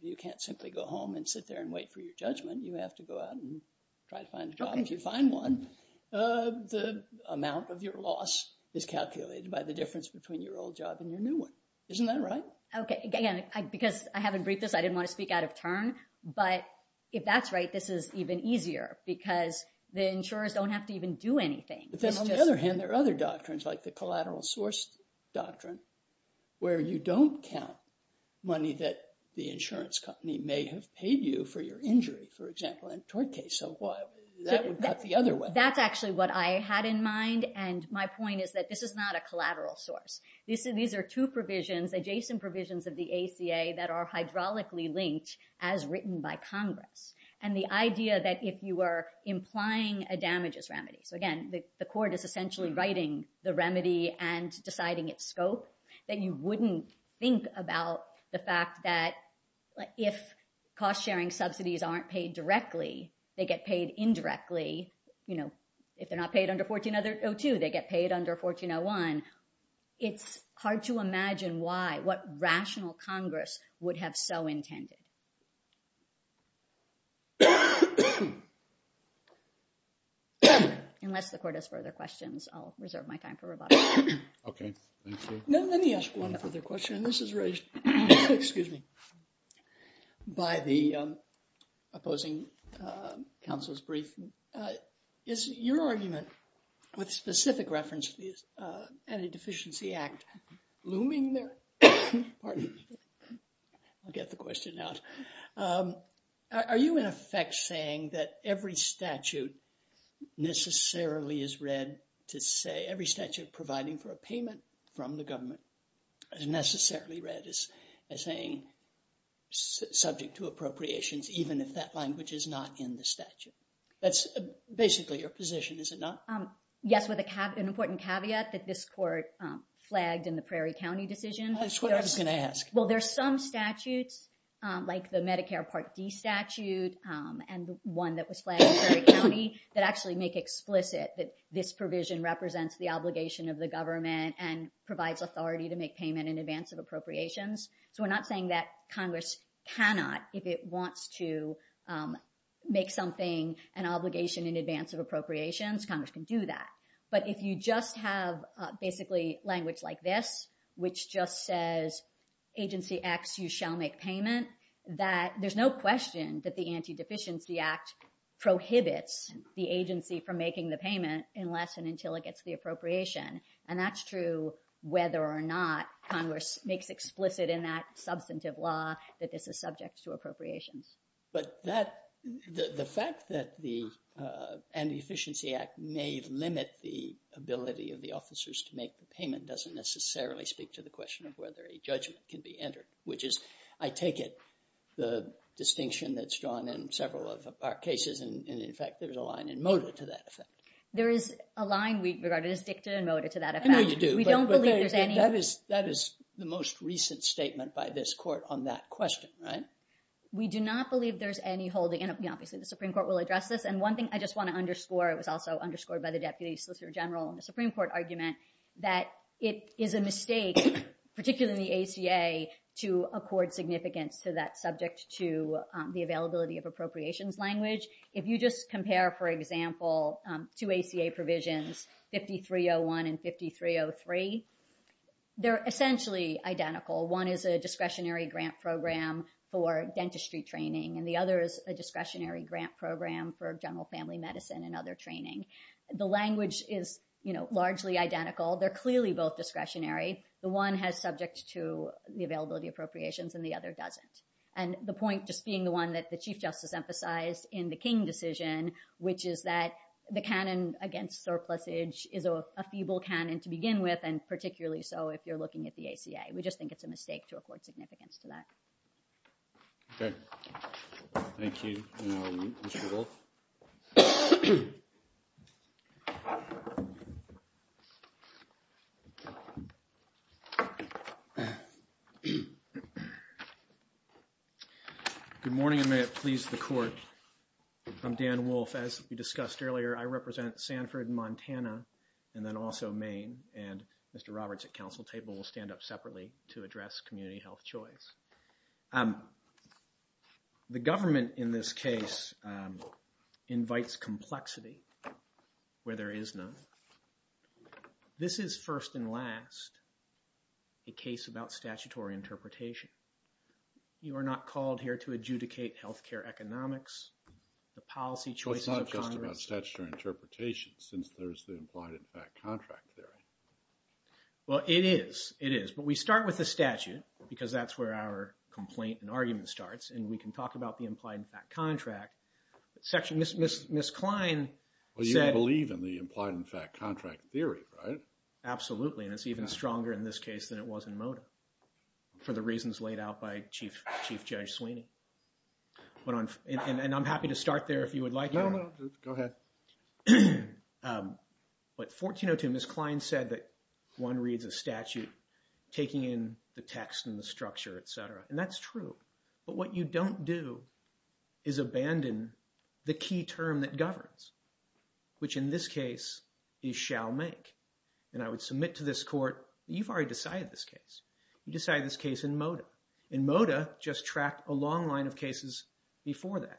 you can't simply go home and sit there and wait for your judgment. You have to go out and try to find a job. If you find one, the amount of your loss is calculated by the difference between your old job and your new one. Isn't that right? Okay. Again, because I haven't briefed this, I didn't want to speak out of turn, but if that's right, this is even easier because the insurers don't have to even do anything. But then on the other hand, there are other doctrines like the collateral source doctrine, where you don't count money that the insurance company may have paid you for your injury, for example, in a tort case. That would cut the other way. That's actually what I had in mind and my point is that this is not a collateral source. These are two provisions, adjacent provisions of the ACA that are hydraulically linked as written by Congress. And the idea that if you are implying a damages remedy, again, the court is essentially writing the remedy and deciding its scope, that you wouldn't think about the fact that if cost-sharing subsidies aren't paid directly, they get paid indirectly. You know, if they're not paid under 1402, they get paid under 1401. It's hard to imagine why, what rational Congress would have so intended. Unless the court has further questions, I'll reserve my time for rebuttal. Okay. Thank you. No, let me ask one other question. This is raised, excuse me, by the opposing counsel's brief. Is your argument with specific reference to the Antideficiency Act looming there? I'll get the question now. Are you in effect saying that every statute necessarily is read to say, every statute providing for a payment from the government is necessarily read as saying subject to appropriations, even if that language is not in the statute? That's basically your position, is it not? Yes, with an important caveat that this court flagged in the Prairie County decision. That's what I was going to ask. Well, there's some statutes, like the Medicare Part D statute, and one that was flagged in Prairie County, that actually make explicit that this provision represents the obligation of the government and provides authority to make payment in advance of appropriations. So, I'm not saying that Congress cannot, if it wants to make something an obligation in advance of appropriations, Congress can do that. But if you just have basically language like this, which just says, agency X, you shall make payment, that there's no question that the Antideficiency Act prohibits the agency from making the payment unless and until it gets the appropriation. And that's true whether or not Congress makes explicit in that substantive law that this is subject to appropriations. But the fact that the Antideficiency Act may limit the ability of the officers to make the payment doesn't necessarily speak to the question of whether a judge can be entered, which is, I take it, the distinction that's drawn in several of our cases, and in fact, there's a line in Mota to that effect. There is a line we regarded as dictated in Mota to that effect. No, you do, but that is the most recent statement by this court on that question, right? We do not believe there's any holding, and obviously the Supreme Court will address this, and one thing I just want to underscore, it was also underscored by the Deputy Solicitor General in the Supreme Court argument, that it is a mistake, particularly in the ACA, to accord significance to that subject to the availability of appropriations language. If you just compare, for example, two ACA provisions, 5301 and 5303, they're essentially identical. One is a discretionary grant program for dentistry training, and the other is a discretionary grant program for general family medicine and other training. The language is largely identical. They're clearly both discretionary. The one has subject to the availability of appropriations, and the other doesn't. And the point, just being the one that the Chief Justice emphasized in the King decision, which is that the canon against surplusage is a feeble canon to begin with, and particularly so if you're looking at the ACA. We just think it's a mistake to I'm Dan Wolfe. As we discussed earlier, I represent Sanford, Montana, and then also Maine, and Mr. Roberts at Council Table will stand up separately to address community health choice. The government in this case invites complexity where there is none. This is first and last a case about statutory interpretation. You are not called here to adjudicate health care economics, the policy choices of Congress. It's not just about statutory interpretation since there's the implied-in-fact contract theory. Well, it is. It is. But we start with the statute because that's where our complaint and argument starts, and we can talk about the implied-in-fact contract. Section... Ms. Klein said... Well, you don't believe in the implied-in-fact contract theory, right? Absolutely, and it's even stronger in this case than it was in Moda for the reasons laid out by Chief Judge Sweeney. And I'm happy to start there if you would like. Go ahead. But 1402, Ms. Klein said that one reads a statute taking in the text and the structure, et cetera, and that's true. But what you don't do is abandon the key term that governs, which in this case you shall make. And I would submit to this court, you've already decided this case. You decided this case in Moda, and Moda just tracked a long line of cases before that.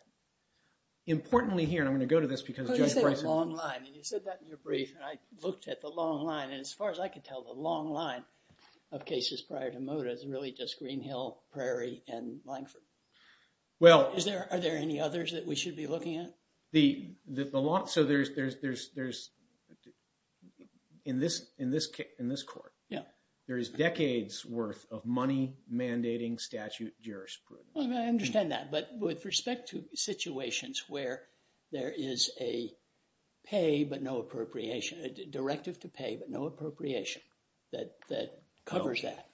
Importantly here, I'm going to go to this because... You said a long line, and you said that in your brief, and I looked at the long line, and as far as I could tell, the long line of cases prior to Moda is really just Green Hill, Prairie, and Langford. Are there any others that we should be looking at? A lot. So in this court, there is decades worth of money mandating statute jurisprudence. Well, I understand that. But with respect to situations where there is a pay but no appropriation, a directive to pay but no appropriation that covers that,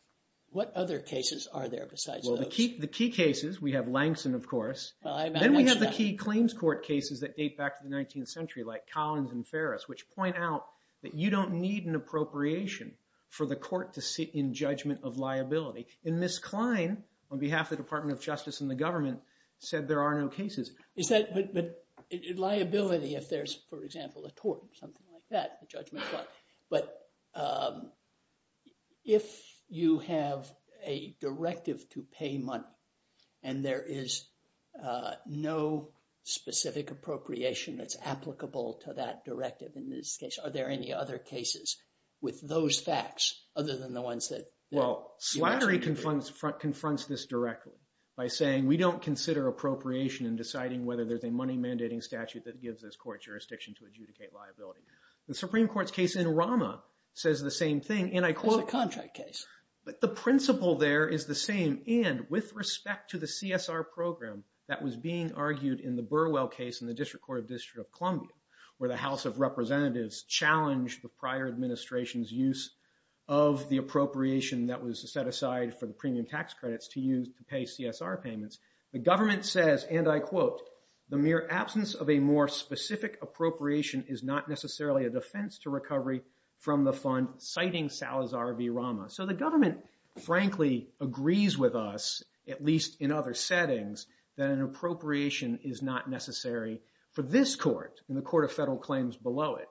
what other cases are there besides those? Well, the key cases, we have Langston, of course. Then we have the key claims court cases that date back to the 19th century, like Collins and Ferris, which point out that you don't need an appropriation for the court to sit in judgment of liability. In this clime, on behalf of the Department of Justice and the government, said there are no cases. But liability, if there's, for example, a tort, something like that. But if you have a directive to pay money and there is no specific appropriation that's applicable to that directive in this case, are there any other cases with those facts other than the ones that- Well, Slattery confronts this directly by saying, we don't consider appropriation in deciding whether there's a money mandating statute that Supreme Court's case in Rama says the same thing, and I quote, contract case. But the principle there is the same. And with respect to the CSR program that was being argued in the Burwell case in the District Court of District of Columbia, where the House of Representatives challenged the prior administration's use of the appropriation that was set aside for the premium tax credits to use to pay CSR payments. The government says, and I quote, the mere absence of a more specific appropriation is not necessarily a defense to recovery from the fund, citing Salazar v. Rama. So the government frankly agrees with us, at least in other settings, that an appropriation is not necessary for this court and the court of federal claims below it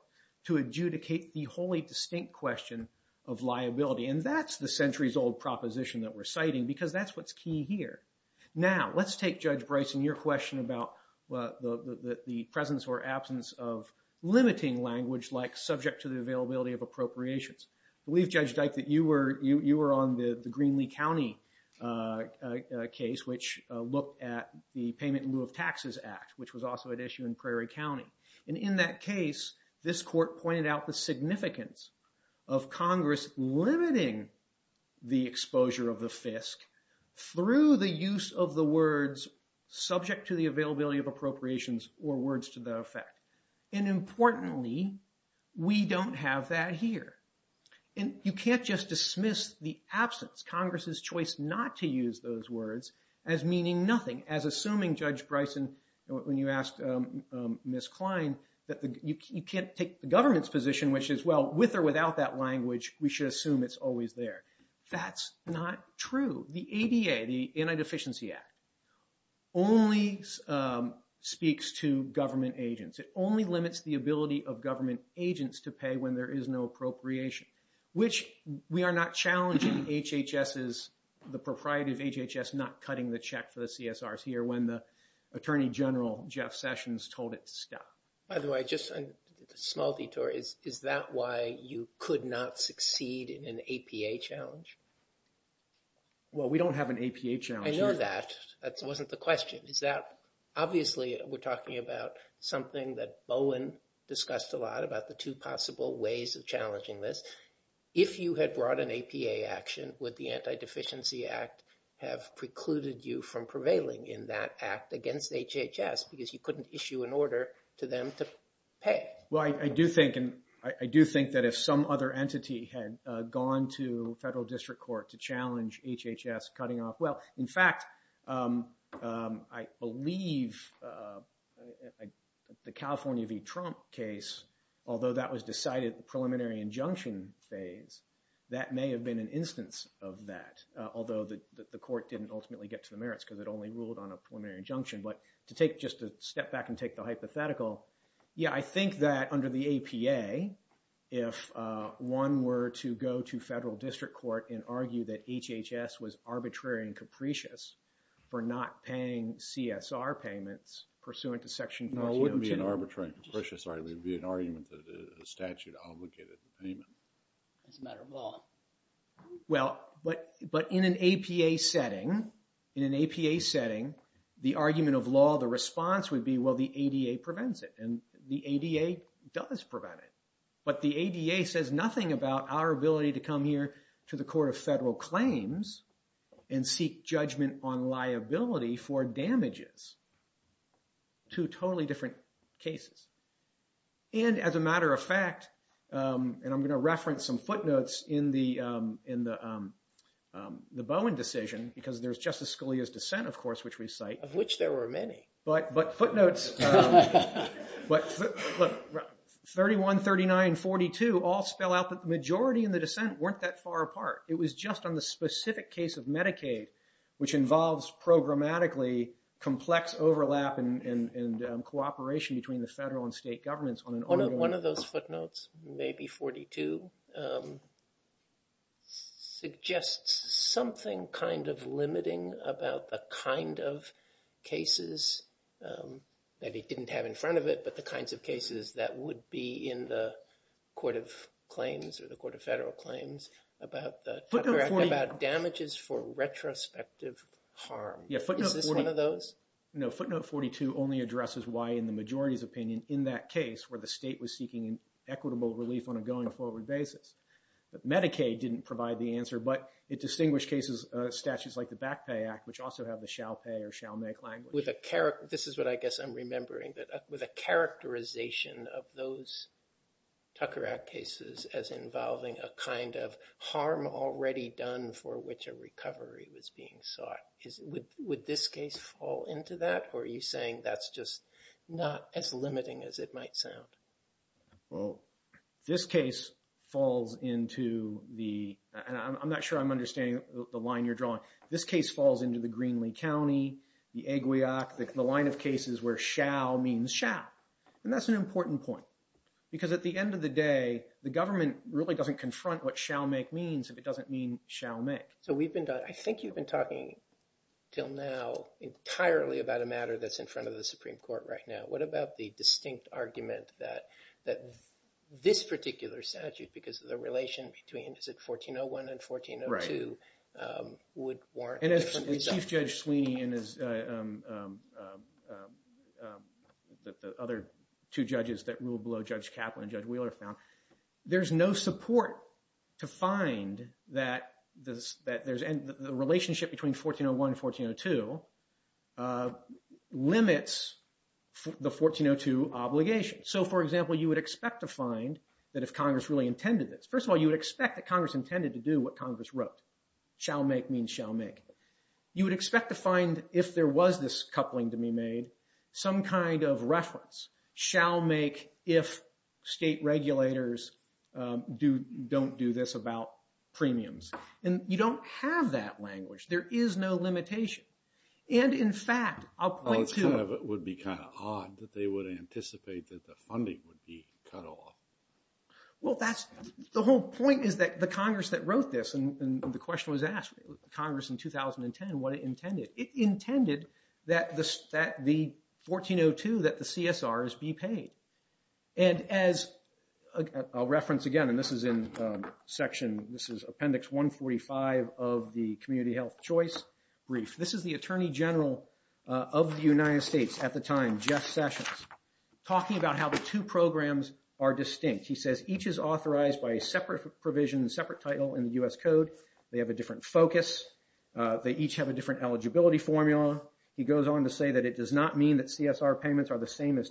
to adjudicate the wholly distinct question of liability. And that's the centuries-old proposition that we're citing because that's what's key here. Now, let's take Judge Bryson, your question about the presence or absence of limiting language like subject to the availability of appropriations. We've judged that you were on the Greenlee County case, which looked at the Payment in Lieu of Taxes Act, which was also at issue in Prairie County. And in that case, this court pointed out the significance of Congress limiting the exposure of a FISC through the use of the words subject to the availability of appropriations or words to that effect. And importantly, we don't have that here. And you can't just dismiss the absence, Congress's choice not to use those words as meaning nothing, as assuming Judge Bryson, when you asked Ms. Klein, that you can't take the government's position, which is, well, with or without that language, we should assume it's always there. That's not true. The ADA, the Anti-Deficiency Act, only speaks to government agents. It only limits the ability of government agents to pay when there is no appropriation, which we are not challenging HHS's, the propriety of HHS not cutting the check for the CSRs here when the Attorney General Jeff Sessions told it to stop. By the way, just a small detour. Is that why you could not succeed in an APA challenge? Well, we don't have an APA challenge. I know that. That wasn't the question. Obviously, we're talking about something that Bowen discussed a lot about the two possible ways of challenging this. If you had brought an APA action, would the Anti-Deficiency Act have precluded you from prevailing in that act against HHS because you couldn't issue an order to them to pay? Well, I do think that if some other entity had gone to federal district court to challenge HHS cutting off, well, in fact, I believe the California v. Trump case, although that was decided in the preliminary injunction phase, that may have been an instance of that, although the court didn't ultimately get to the merits because it only ruled on a hypothetical. Yeah, I think that under the APA, if one were to go to federal district court and argue that HHS was arbitrary and capricious for not paying CSR payments pursuant to section- No, it wouldn't be an arbitrary and capricious argument. It would be an argument that the statute obligated the payment. It's a matter of law. Well, but in an APA setting, in an APA setting, the argument of law, the response would be, well, the ADA prevents it. And the ADA does prevent it. But the ADA says nothing about our ability to come here to the court of federal claims and seek judgment on liability for damages. Two totally different cases. And as a matter of fact, and I'm going to reference some footnotes in the Bowen decision, because there's Justice Scalia's dissent, of course, which we cite- Of which there were many. But footnotes 31, 39, and 42 all spell out that the majority in the dissent weren't that far apart. It was just on the specific case of Medicaid, which involves programmatically complex overlap and cooperation between the federal and state governments on an- One of those footnotes, maybe 42, suggests something kind of limiting about the kind of cases that he didn't have in front of it, but the kinds of cases that would be in the court of claims or the court of federal claims about damages for retrospective harm. Is this one of those? No, footnote 42 only addresses why in the majority's opinion in that case, where the state was seeking equitable relief on a going forward basis. Medicaid didn't provide the answer, but it distinguished cases, statutes like the Back Pay Act, which also have the shall pay or shall make language. This is what I guess I'm remembering, but with a characterization of those Tucker Act cases as involving a kind of harm already done for which a recovery was being sought. Would this case fall into that? Or are you saying that's just not as limiting as it might sound? Well, this case falls into the... And I'm not sure I'm understanding the line you're drawing. This case falls into the Greenlee County, the Aguioc, the line of cases where shall means shall. And that's an important point, because at the end of the day, the government really doesn't confront what shall make means if it doesn't mean shall make. So we've been done. I think you've been talking till now entirely about a matter that's in front of the Supreme Court right now. What about the distinct argument that this particular statute, because of the relation between 1401 and 1402, would warrant... And as Chief Judge Sweeney and the other two judges that ruled below Judge Kaplan and Judge Wheeler found, there's no support to find that the relationship between 1401 and 1402 limits the 1402 obligation. So for example, you would expect to find that if Congress really intended this... First of all, you would expect that Congress intended to do what Congress wrote, shall make means shall make. You would expect to find, if there was this coupling to be made, some kind of reference, shall make if state regulators don't do this about premiums. And you don't have that language. There is no limitation. And in fact, I'll point to... It would be kind of odd that they would anticipate that the funding would be cut off. Well, the whole point is that the Congress that wrote this, and the question was asked, Congress in 2010, what it intended. It intended that the 1402, that the CSRs be paid. And as a reference again, and this is in section... This is appendix 145 of the community health choice brief. This is the Attorney General of the United States at the time, Jeff Sessions, talking about how the two programs are distinct. He says each is authorized by a separate provision, separate title in the US code. They have a different focus. They each have a different eligibility formula. He goes on to say that it does not mean that CSR payments are the same as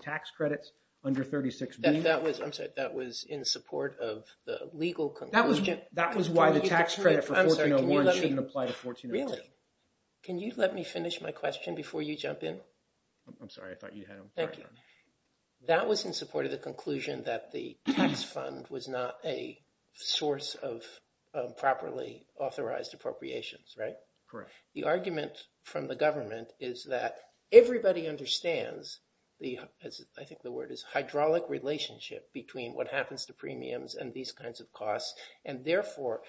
under 36B. I'm sorry, that was in support of the legal... That was why the tax credit for 1401 shouldn't apply to 1402. Really? Can you let me finish my question before you jump in? I'm sorry. I thought you had a question. Thank you. That was in support of the conclusion that the tax fund was not a source of properly authorized appropriations, right? Correct. The argument from the government is that everybody understands the... I think the word is hydraulic relationship between what happens to premiums and these kinds of costs. And therefore,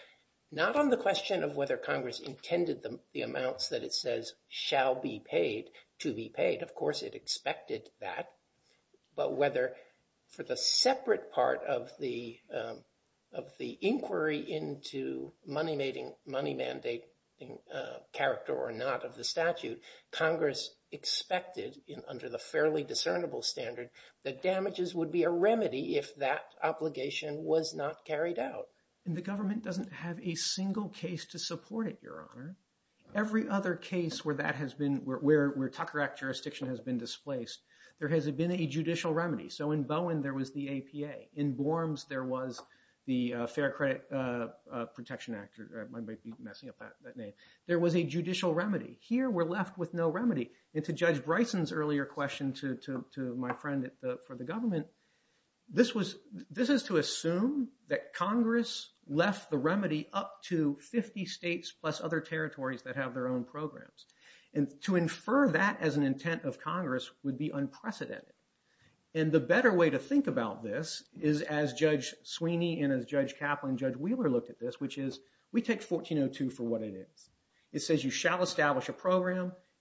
not on the question of whether Congress intended the amounts that it says shall be paid to be paid. Of course, it expected that. But whether for the separate part of the inquiry into money mandating character or not of the under the fairly discernible standard, that damages would be a remedy if that obligation was not carried out. And the government doesn't have a single case to support it, Your Honor. Every other case where Tucker Act jurisdiction has been displaced, there hasn't been a judicial remedy. So in Bowen, there was the APA. In Borms, there was the Fair Credit Protection Act, or I might be messing up that name. There was a judicial remedy. Here, we're left with no remedy. And to Judge Bryson's earlier question to my friend for the government, this is to assume that Congress left the remedy up to 50 states plus other territories that have their own programs. And to infer that as an intent of Congress would be unprecedented. And the better way to think about this is as Judge Sweeney and as Judge Kaplan and Judge Sweeney,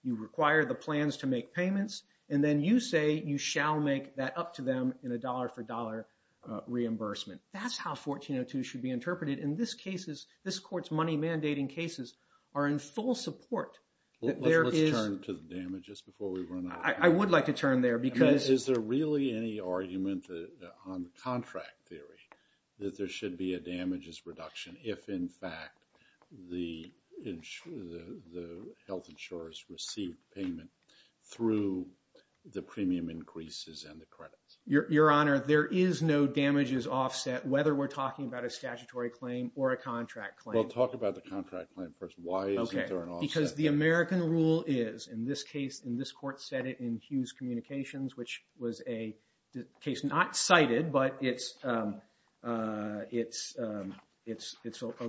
you require the plans to make payments. And then you say you shall make that up to them in a dollar for dollar reimbursement. That's how 1402 should be interpreted. In this case, this court's money mandating cases are in full support. Let's turn to the damages before we run out. I would like to turn there because- Is there really any argument on the contract theory that there should be a damages reduction if, in fact, the health insurers receive payment through the premium increases and the credits? Your Honor, there is no damages offset, whether we're talking about a statutory claim or a contract claim. Well, talk about the contract claim first. Why is there an offset? Because the American rule is, in this case, and this court said it in Hughes Communications, which was a case not cited, but it's a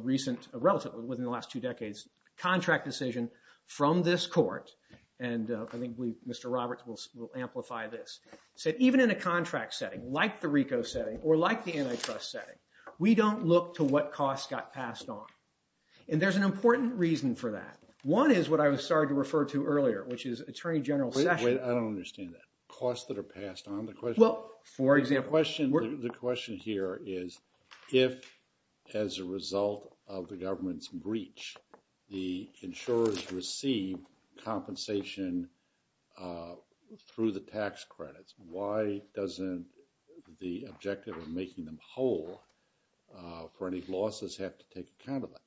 recent relative within the last two decades, contract decision from this court. And I think Mr. Roberts will amplify this. Said even in a contract setting, like the RICO setting or like the antitrust setting, we don't look to what costs got passed on. And there's an important reason for that. One is what I was starting to refer to earlier, which is Attorney General Sessions- Well, for example- The question here is, if as a result of the government's breach, the insurers receive compensation through the tax credits, why doesn't the objective of making them whole for any losses have to take account of it?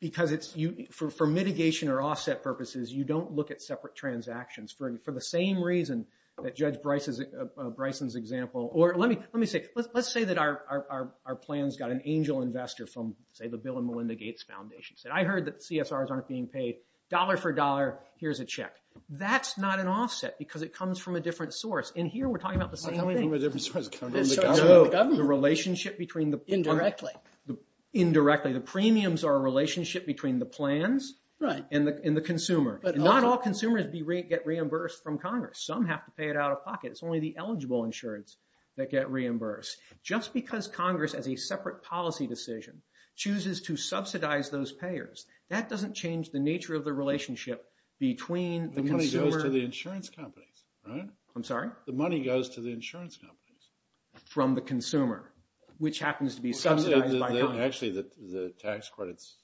Because for mitigation or offset purposes, you don't look at separate transactions for the same reason that Judge Bryson's example. Or let me say, let's say that our plans got an angel investor from, say, the Bill and Melinda Gates Foundation. Said, I heard that CSRs aren't being paid, dollar for dollar, here's a check. That's not an offset because it comes from a different source. And here we're talking about the same thing. The relationship between the- Indirectly. Indirectly. The premiums are a relationship between the plans- Right. And the consumer. And not all consumers get reimbursed from Congress. Some have to pay it out of pocket. It's only the eligible insurance that get reimbursed. Just because Congress, as a separate policy decision, chooses to subsidize those payers, that doesn't change the nature of the relationship between the consumer- The money goes to the insurance companies, right? I'm sorry? The money goes to the insurance companies. From the consumer, which happens to be subsidized by Congress. Actually, the tax credits,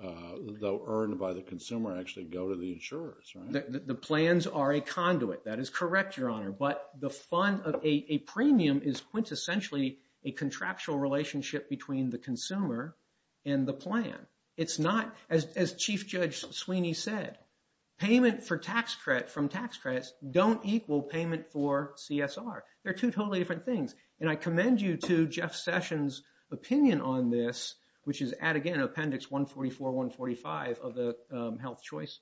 though earned by the consumer, actually go to the insurers, right? The plans are a conduit. That is correct, Your Honor. But a premium is quintessentially a contractual relationship between the consumer and the plan. It's not, as Chief Judge Sweeney said, payment from tax credits don't equal payment for CSR. They're two totally different things. And I commend you to Jeff Sessions' opinion on this, which is, add again, Appendix 144, 145 of the Health Choice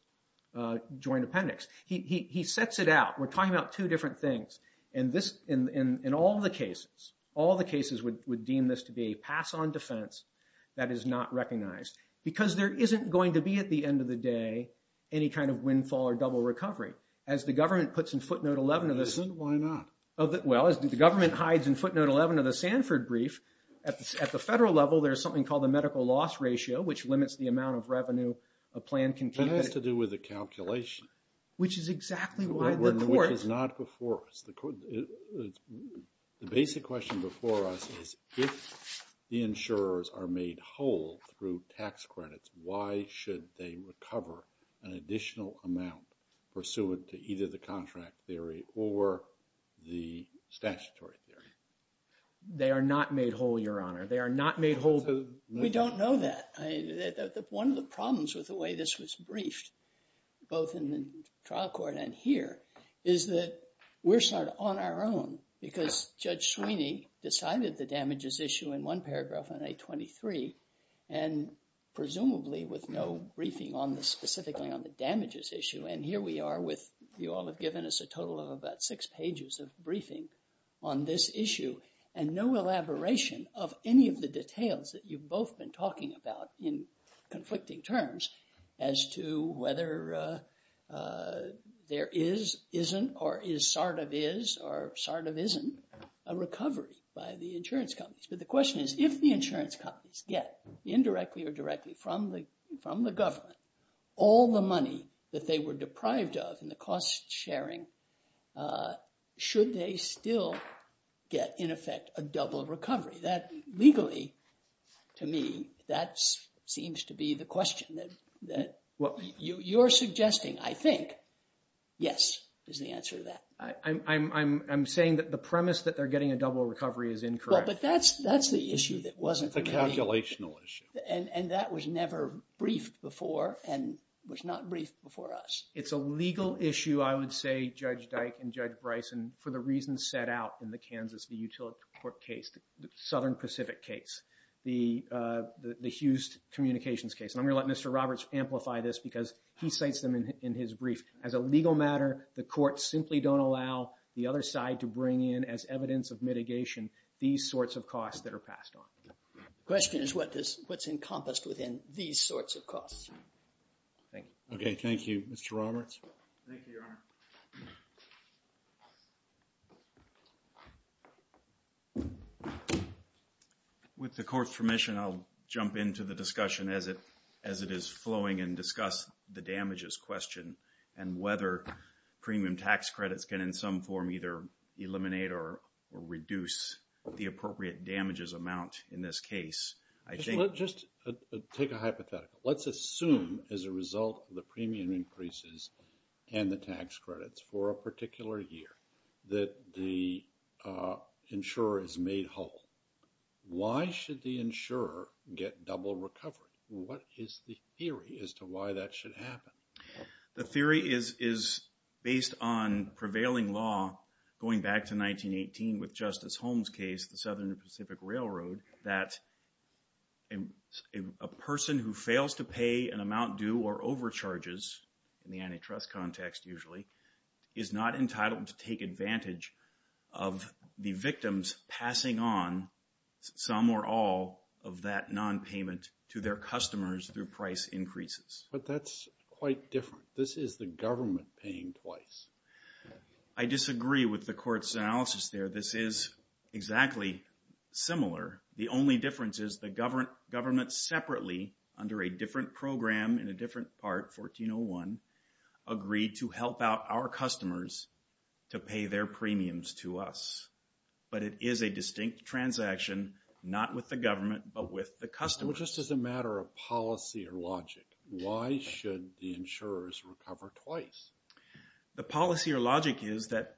Joint Appendix. He sets it out. We're talking about two different things. And all the cases would deem this to be a pass-on defense that is not recognized. Because there isn't going to be, at the end of the day, any kind of windfall or double recovery. As the government puts in footnote 11 of this- Why not? Well, as the government hides in footnote 11 of the Sanford brief, at the federal level, there's something called the medical loss ratio, which limits the amount of revenue a plan can- It has to do with the calculation. Which is exactly why the court- Which is not before us. The basic question before us is, if the insurers are made whole through tax credits, why should they recover an additional amount pursuant to either the statutory theory? They are not made whole, Your Honor. They are not made whole through- We don't know that. One of the problems with the way this was briefed, both in the trial court and here, is that we're sort of on our own. Because Judge Sweeney decided the damages issue in one paragraph on 823, and presumably with no briefing on this specifically on the damages issue. And here we are with, you all have given us a total of about six pages of briefing on this issue, and no elaboration of any of the details that you've both been talking about in conflicting terms as to whether there is, isn't, or is sort of is, or sort of isn't, a recovery by the insurance companies. But the question is, if the insurance companies get, indirectly or directly, from the government, all the money that they were owed, should they still get, in effect, a double recovery? That, legally, to me, that seems to be the question that you're suggesting, I think, yes, is the answer to that. I'm saying that the premise that they're getting a double recovery is incorrect. But that's the issue that wasn't- The calculational issue. And that was never briefed before, and was not briefed before us. It's a legal issue, I would say, Judge Dyke and Judge Bryson, for the reasons set out in the Kansas Utility Court case, the Southern Pacific case, the Hughes Communications case. And I'm going to let Mr. Roberts amplify this, because he cites them in his brief. As a legal matter, the courts simply don't allow the other side to bring in, as evidence of mitigation, these sorts of costs that are passed on. Question is, what's encompassed within these sorts of costs? Thank you. Thank you, Mr. Roberts. Thank you, Your Honor. With the court's permission, I'll jump into the discussion as it is flowing and discuss the damages question, and whether premium tax credits can, in some form, either eliminate or reduce the appropriate damages amount in this case. Let's just take a hypothetical. Let's assume, as a result of the premium increases and the tax credits for a particular year, that the insurer is made whole. Why should the insurer get double recovery? What is the theory as to why that should happen? The theory is, based on prevailing law, going back to 1918 with Justice Holmes' case, the Southern Pacific Railroad, that a person who fails to pay an amount due or overcharges, in the antitrust context, usually, is not entitled to take advantage of the victims passing on some or all of that nonpayment to their customers through price increases. But that's quite different. This is the government paying twice. I disagree with the court's analysis there. This is exactly similar. The only difference is the government separately, under a different program, in a different part, 1401, agreed to help out our customers to pay their premiums to us. But it is a distinct transaction, not with the government, but with the customers. Well, just as a matter of policy or logic, why should the insurers recover twice? The policy or logic is that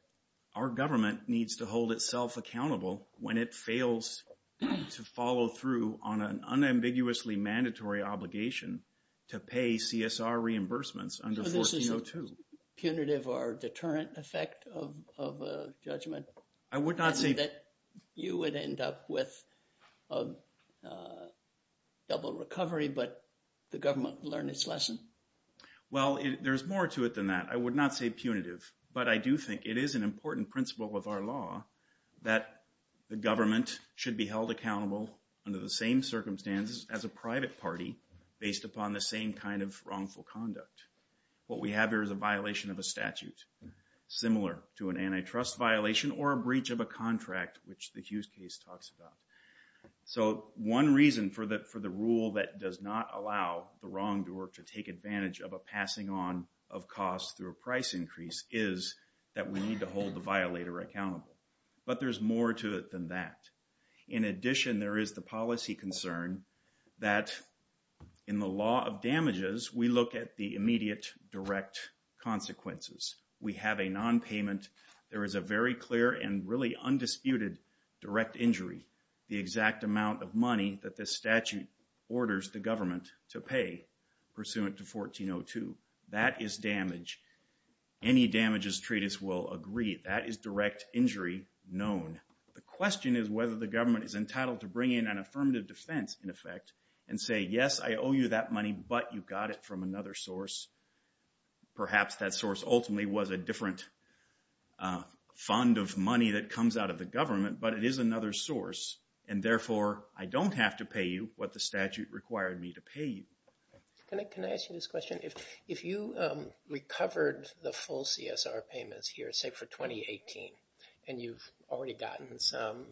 our government needs to hold itself accountable when it fails to follow through on an unambiguously mandatory obligation to pay CSR reimbursements under 1402. So this is a punitive or deterrent effect of judgment? I would not say that. You would end up with double recovery, but the government learned its lesson. Well, there's more to it than that. I would not say punitive, but I do think it is an important principle of our law that the government should be held accountable under the same circumstances as a private party based upon the same kind of wrongful conduct. What we have here is a violation of a statute, similar to an antitrust violation or a breach of a contract, which the Hughes case talks about. So one reason for the rule that does not allow the wrongdoer to take advantage of a passing on of costs through a price increase is that we need to hold the violator accountable. But there's more to it than that. In addition, there is the policy concern that in the law of damages, we look at the immediate direct consequences. We have a nonpayment. There is a very clear and really undisputed direct injury. The exact amount of money that the statute orders the government to pay pursuant to 1402, that is damage. Any damages treatise will agree that is direct injury known. The question is whether the government is entitled to bring in an affirmative defense in effect and say, yes, I owe you that money, but you got it from another source. Perhaps that source ultimately was a different fund of money that comes out of the government, but it is another source. And therefore, I don't have to pay you what the statute required me to pay you. Can I ask you this question? If you recovered the full CSR payments here, say for 2018, and you've already gotten some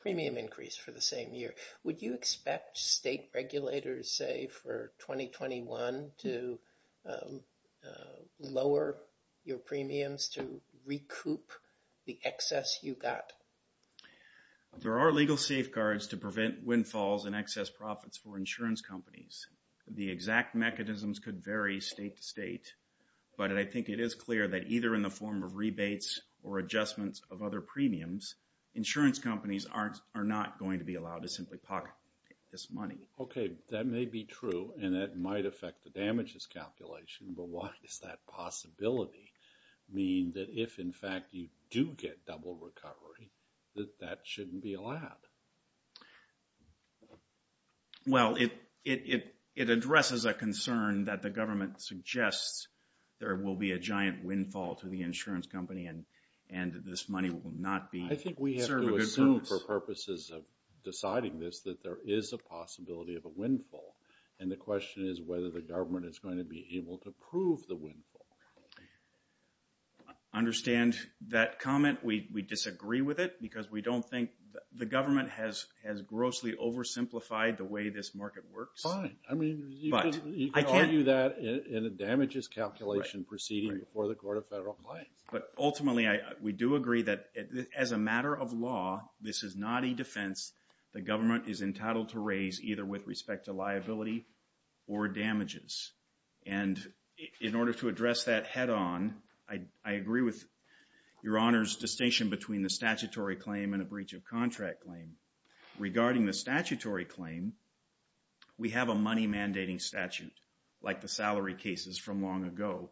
premium increase for the same year, would you expect state regulators, say, for 2021 to lower your premiums to recoup the excess you got? There are legal safeguards to prevent windfalls and excess profits for insurance companies. The exact mechanisms could vary state to state, but I think it is clear that either in the form of rebates or adjustments of other premiums, insurance companies are not going to be allowed to simply pocket this money. Okay, that may be true, and that might affect the damages calculation, but what does that possibility mean that if, in fact, you do get double recovery, that that shouldn't be allowed? Well, it addresses a concern that the government suggests there will be a giant windfall to the insurance company and this money will not be for purposes of deciding this, that there is a possibility of a windfall. And the question is whether the government is going to be able to prove the windfall. I understand that comment. We disagree with it because we don't think the government has grossly oversimplified the way this market works. Fine. I mean, you can argue that in the damages calculation proceeding before the matter of law, this is not a defense the government is entitled to raise either with respect to liability or damages. And in order to address that head on, I agree with your Honor's distinction between the statutory claim and a breach of contract claim. Regarding the statutory claim, we have a money mandating statute like the salary cases from long ago.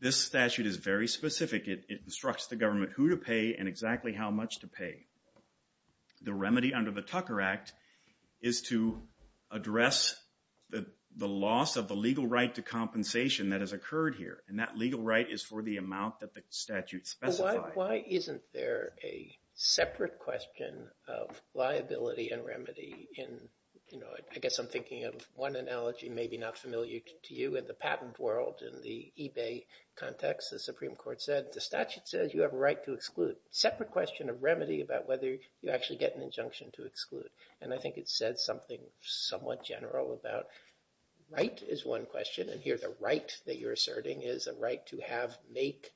This statute is very specific. It instructs the government who to pay and exactly how much to pay. The remedy under the Tucker Act is to address the loss of the legal right to compensation that has occurred here. And that legal right is for the amount that the statute specifies. Why isn't there a separate question of liability and remedy? I guess I'm thinking of one analogy maybe not familiar to you in the patent world. In the eBay context, the Supreme Court said the statute says you have a right to exclude. Separate question of remedy about whether you actually get an injunction to exclude. And I think it said something somewhat general about right is one question. And here the right that you're asserting is a right to have make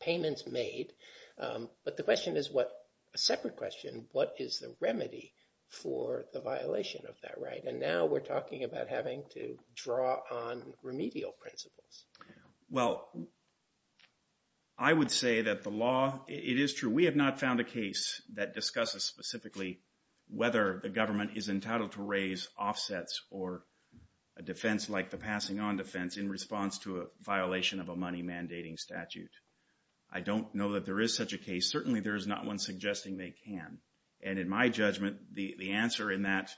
payments made. But the question is what separate question, what is the remedy for the violation of that right? And now we're talking about having to draw on remedial principles. Well, I would say that the law, it is true. We have not found a case that discusses specifically whether the government is entitled to raise offsets or a defense like the passing on defense in response to a violation of a money mandating statute. I don't know that there is such a case. Certainly there is not one suggesting they can. And in my judgment, the answer in that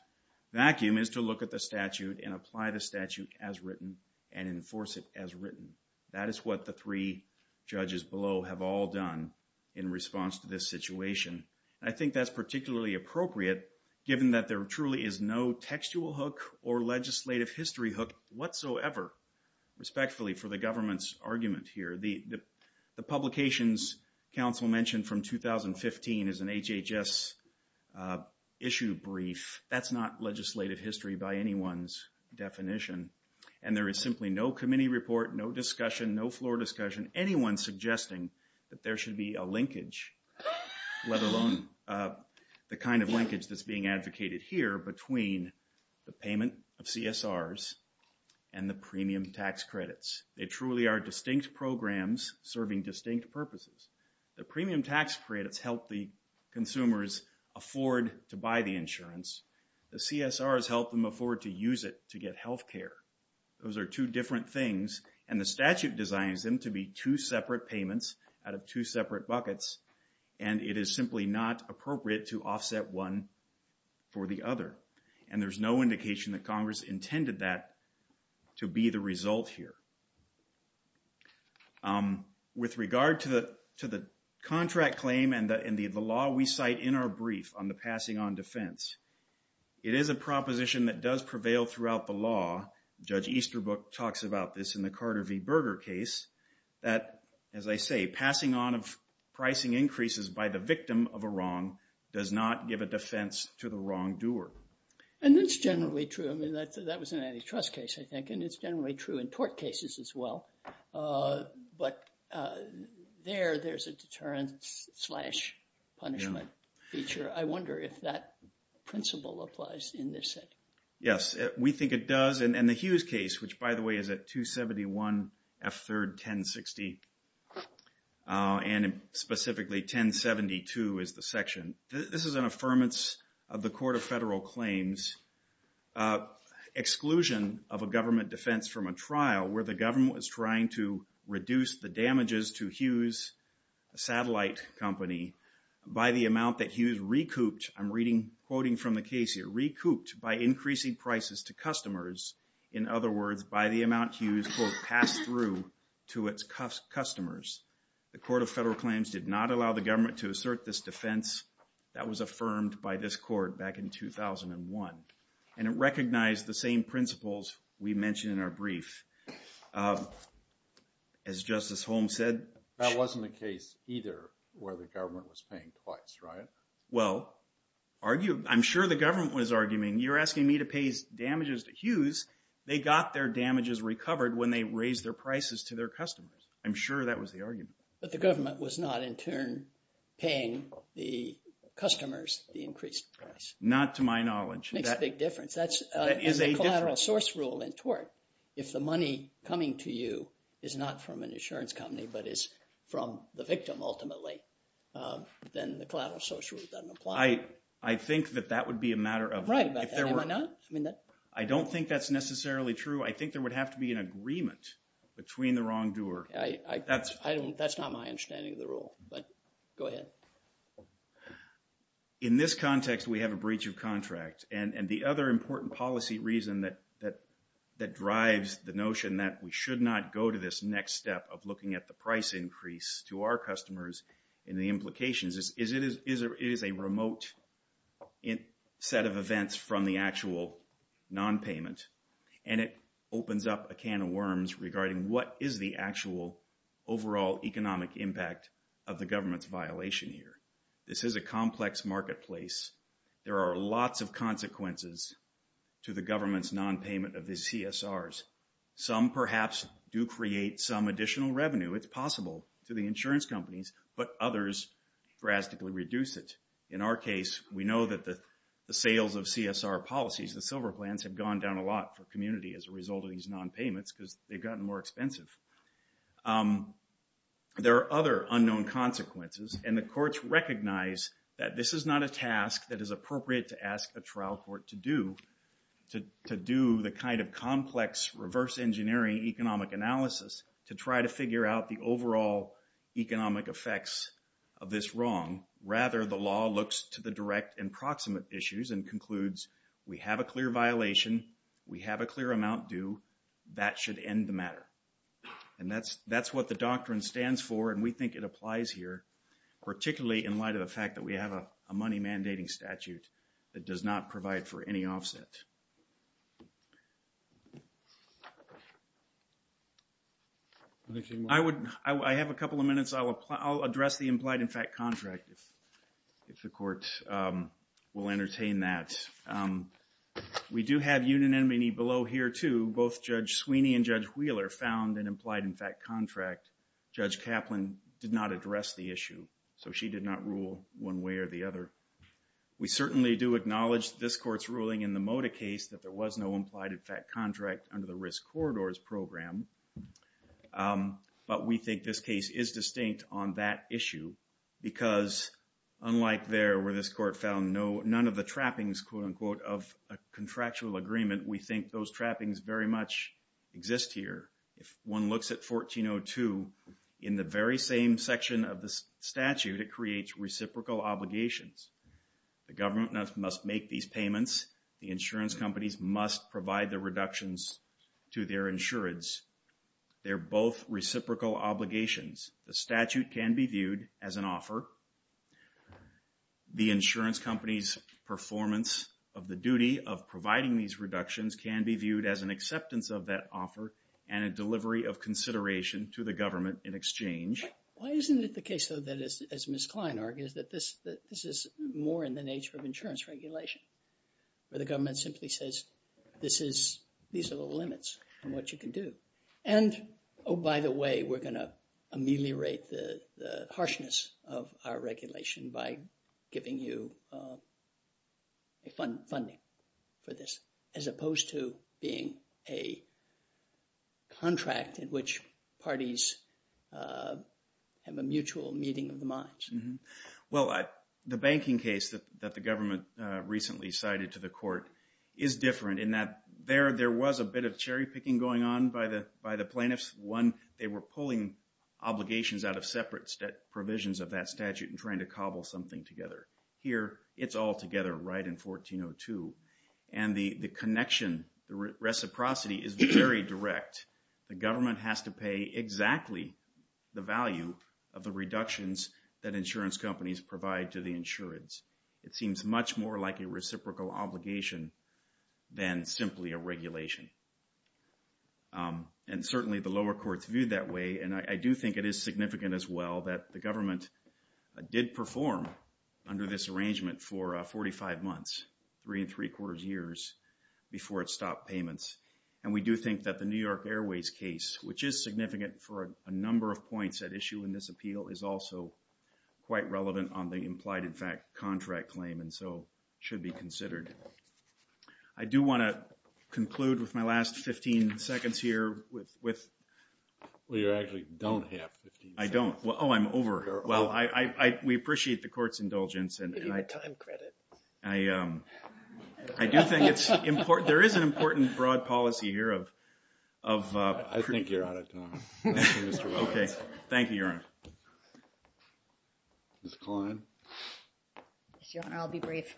vacuum is to look at the statute and apply the statute as written and enforce it as written. That is what the three judges below have all done in response to this situation. I think that's particularly appropriate given that there truly is no textual hook or legislative history hook whatsoever respectfully for the government's publications council mentioned from 2015 is an HHS issue brief. That's not legislative history by anyone's definition. And there is simply no committee report, no discussion, no floor discussion, anyone suggesting that there should be a linkage, let alone the kind of linkage that's being advocated here between the payment of CSRs and the premium tax credits. They truly are programs serving distinct purposes. The premium tax credits help the consumers afford to buy the insurance. The CSRs help them afford to use it to get healthcare. Those are two different things. And the statute designs them to be two separate payments out of two separate buckets. And it is simply not appropriate to offset one for the other. And there's no indication that Congress intended that to be the result here. With regard to the contract claim and the law we cite in our brief on the passing on defense, it is a proposition that does prevail throughout the law. Judge Easterbrook talks about this in the Carter v. Berger case that, as I say, passing on of pricing increases by the victim of a wrong does not give a defense to the wrongdoer. And that's generally true. I mean, that was an antitrust case, I think, and it's generally true in tort cases as well. But there, there's a deterrent slash punishment feature. I wonder if that principle applies in this case. Yes, we think it does. And the Hughes case, which, by the way, is at 271 F. 3rd 1060, and specifically 1072 is the section. This is an affirmance of the Court of Federal Claims' exclusion of a government defense from a trial where the government was trying to reduce the damages to Hughes, a satellite company, by the amount that Hughes recouped, I'm reading, quoting from the case here, recouped by increasing prices to customers. In other words, by the amount Hughes, quote, passed through to its customers. The Court of Federal Claims did not allow the government to assert this defense that was affirmed by this court back in 2001. And it recognized the same principles we mentioned in our brief. As Justice Holmes said- That wasn't the case either where the government was paying twice, right? Well, argue, I'm sure the government was arguing, you're asking me to pay damages to Hughes. They got their damages recovered when they raised their prices to their customers. I'm sure that was the argument. But the government was not, in turn, paying the customers the increased price. Not to my knowledge. It makes a big difference. That's a collateral source rule in tort. If the money coming to you is not from an insurance company, but is from the victim, ultimately, then the collateral source rule doesn't apply. I think that that would be a matter of- Right, but why not? I don't think that's necessarily true. I think there would have to be an agreement between the wrongdoer. I think that's not my understanding of the rule, but go ahead. In this context, we have a breach of contract. And the other important policy reason that drives the notion that we should not go to this next step of looking at the price increase to our customers and the implications is it is a remote set of events from the actual nonpayment. And it opens up a can of worms regarding what is the actual overall economic impact of the government's violation here. This is a complex marketplace. There are lots of consequences to the government's nonpayment of these CSRs. Some, perhaps, do create some additional revenue. It's possible to the insurance companies, but others drastically reduce it. In our case, we know that the sales of CSR policies, the silver plans, have gone down a lot for community as a result of these nonpayments because they've gotten more expensive. There are other unknown consequences. And the courts recognize that this is not a task that is appropriate to ask the trial court to do, to do the kind of complex reverse engineering economic analysis to try to figure out the overall economic effects of this wrong. Rather, the law looks to the direct and proximate issues and concludes, we have a clear violation. We have a clear amount due. That should end the matter. And that's what the doctrine stands for. And we think it applies here, particularly in light of the fact that we have a money mandating statute that does not provide for any offset. I would, I have a couple of minutes. I'll address the implied impact contract if the court will entertain that. We do have unanimity below here too. Both Judge Sweeney and Judge Wheeler found an implied impact contract. Judge Kaplan did not address the issue. So she did not rule one way or the other. We certainly do acknowledge this court's ruling in the Moda case that there was no implied impact contract under the risk corridors program. But we think this case is distinct on that issue. Because unlike there, where this court found no, none of the trappings, quote unquote, of a contractual agreement, we think those trappings very much exist here. If one looks at 1402, in the very same section of the statute, it creates reciprocal obligations. The government must make these payments. The insurance companies must provide the reductions to their insurance. They're both reciprocal obligations. The statute can be viewed as an offer. The insurance company's performance of the duty of providing these reductions can be viewed as an acceptance of that offer and a delivery of consideration to the government in exchange. Why isn't it the case, though, that as Ms. Kline argued, that this is more in the nature of insurance regulation? The government simply says, these are the limits on what you can do. And, oh, by the way, we're going to ameliorate the harshness of that. Our regulation by giving you funding for this, as opposed to being a contract in which parties have a mutual meeting of the minds. Well, the banking case that the government recently cited to the court is different in that there was a bit of cherry picking going on by the plaintiffs. They were pulling obligations out of separate provisions of that statute and trying to cobble something together. Here, it's all together right in 1402. And the connection, the reciprocity is very direct. The government has to pay exactly the value of the reductions that insurance companies provide to the insurance. It seems much more like a reciprocal obligation than simply a regulation. And certainly, the lower courts viewed that way. And I do think it is significant as well that the government did perform under this arrangement for 45 months, three and three quarters years, before it stopped payments. And we do think that the New York Airways case, which is significant for a number of points at issue in this appeal, is also quite relevant on the implied in fact contract claim and so should be considered. I do want to conclude with my last 15 seconds here with... Well, you actually don't have 15 seconds. I don't. Oh, I'm over. You're over. Well, we appreciate the court's indulgence and I... Give you the time credit. I do think it's important. There is an important broad policy here of... I think you're out of time. Thank you, Mr. Rowe. Okay. Thank you, Your Honor. Ms. Kline. Your Honor, I'll be brief.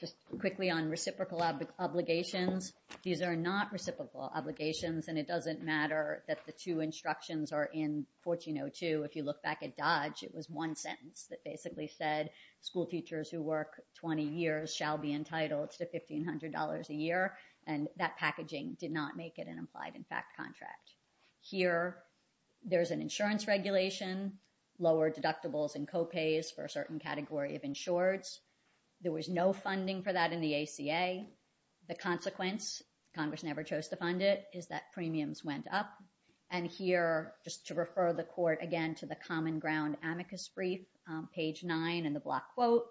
Just quickly on reciprocal obligations. These are not reciprocal obligations and it doesn't matter that the two instructions are in 1402. If you look back at Dodge, it was one sentence that basically said school teachers who work 20 years shall be entitled to $1,500 a year. And that packaging did not make it an implied in fact contract. Here, there's an insurance regulation, lower deductibles and co-pays for a certain category of insurers. There was no funding for that in the ACA. The consequence, Congress never chose to fund it, is that premiums went up. And here, just to refer the court again to the common ground amicus brief, page nine in the block quote.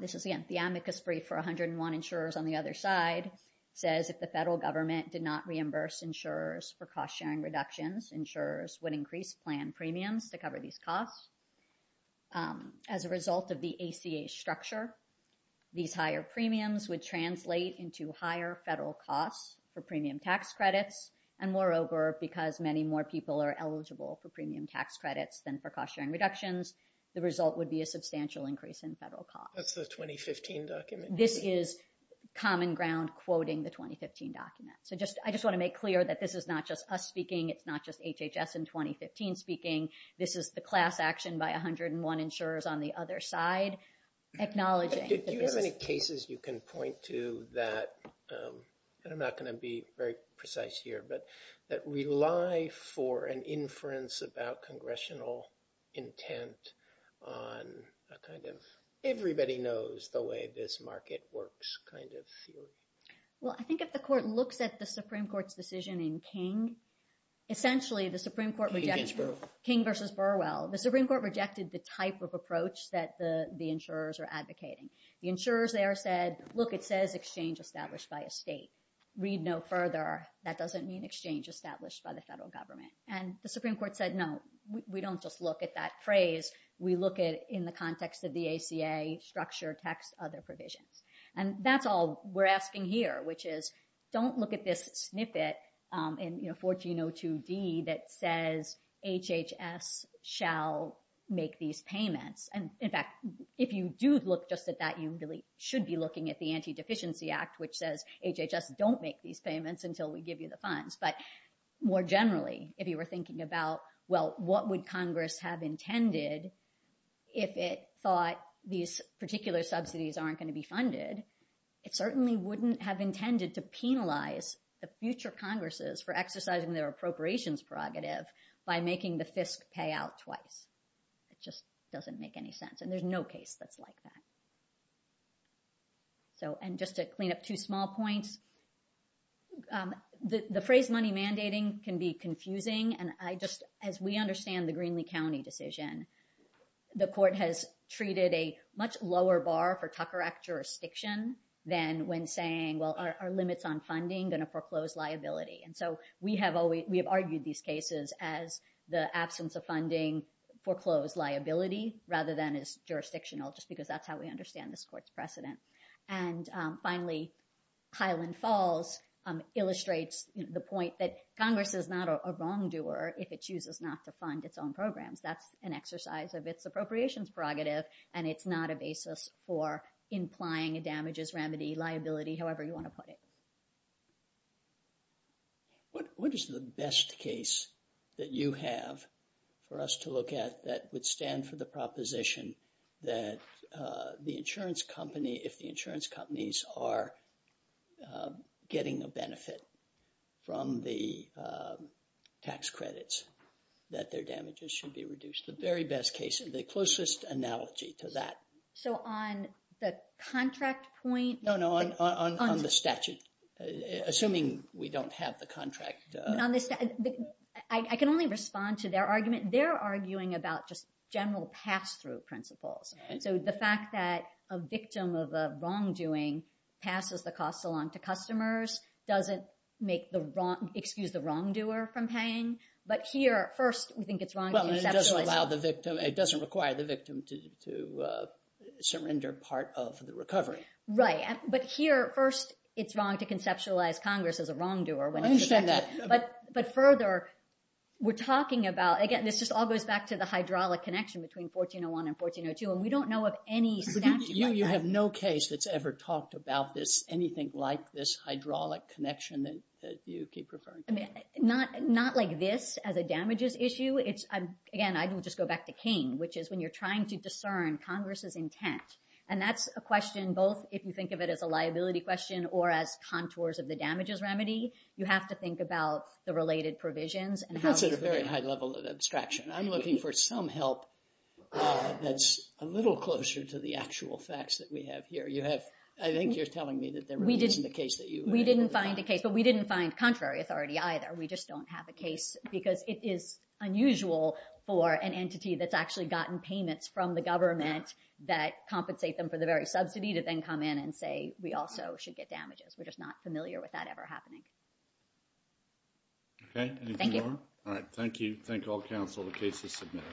This is the amicus brief for 101 insurers on the other side, says if the federal government did not reimburse insurers for cost-sharing reductions, insurers would increase plan premiums to cover these costs. As a result of the ACA structure, these higher premiums would translate into higher federal costs for premium tax credits. And moreover, because many more people are eligible for premium tax credits than for cost-sharing reductions, the result would be a substantial increase in federal costs. That's the 2015 document. This is common ground quoting the 2015 document. So I just want to make clear that this is not just us speaking. It's not just HHS in 2015 speaking. This is the class action by 101 insurers on the other side acknowledging. Do you have any cases you can point to that, and I'm not going to be very precise here, but that rely for an inference about congressional intent on a kind of everybody knows the way this market works kind of field? Well, I think if the court looked at the Supreme Court's decision in King, essentially the Supreme Court King versus Burwell, the Supreme Court rejected the type of approach that the insurers are advocating. The insurers there said, look, it says exchange established by a state. Read no further. That doesn't mean exchange established by the federal government. And the Supreme Court said, no, we don't just look at that phrase. We look at it in the context of the ACA structure, tax, other provisions. And that's all we're asking here, which is don't look at this snippet in 1402D that says HHS shall make these payments. And in fact, if you do look just at that, you really should be looking at the Anti-Deficiency Act, which says HHS don't make these payments until we give you the funds. But more generally, if you were thinking about, well, what would Congress have intended if it thought these particular subsidies aren't going to be funded? It certainly wouldn't have intended to penalize the future Congresses for exercising their appropriations prerogative by making the FISC pay out twice. It just doesn't make any sense. And there's no case that's like that. So, and just to clean up two small points, the phrase money mandating can be confusing. And I just, as we understand the Greenlee County decision, the court has treated a much lower bar for Tucker Act jurisdiction than when saying, well, our limits on funding going to foreclose liability. And so we have argued these cases as the absence of funding foreclosed liability rather than as jurisdictional, just because that's how we understand this court's precedent. And finally, Highland Falls illustrates the point that Congress is not a wrongdoer if it chooses not to fund its own programs. That's an exercise of its appropriations prerogative. And it's not a basis for implying damages, remedy, liability, however you want to put it. What is the best case that you have for us to look at that would stand for the proposition that the insurance company, if the insurance companies are getting a benefit from the tax credits, that their damages should be reduced? The very best case and the closest analogy to that. So on the contract point? No, no, on the statute. Assuming we don't have the contract. I can only respond to their argument. They're arguing about just general pass-through principles. So the fact that a victim of a wrongdoing passes the cost along to customers doesn't make the wrong, excuse the wrongdoer from paying. But here, first, we think it's wrong. Well, it doesn't allow the victim. It doesn't require the victim to surrender part of the recovery. Right. But here, first, it's wrong to conceptualize Congress as a wrongdoer. Well, I understand that. But further, we're talking about, again, this just all goes back to the hydraulic connection between 1401 and 1402. And we don't know of any. You have no case that's ever talked about this, anything like this hydraulic connection that you keep referring to. Not like this as a damages issue. It's, again, I can just go back to King, which is when you're trying to discern Congress's intent. And that's a question, both if you think of it as a liability question or as contours of the damages remedy, you have to think about the related provisions. And that's at a very high level of abstraction. I'm looking for some help that's a little closer to the actual facts that we have here. You have, I think you're telling me that there isn't a case that you have. We didn't find the case, but we didn't find contrary authority. We just don't have a case because it is unusual for an entity that's actually gotten payments from the government that compensate them for the very subsidy to then come in and say, we also should get damages. We're just not familiar with that ever happening. Okay. Thank you. Thank you all.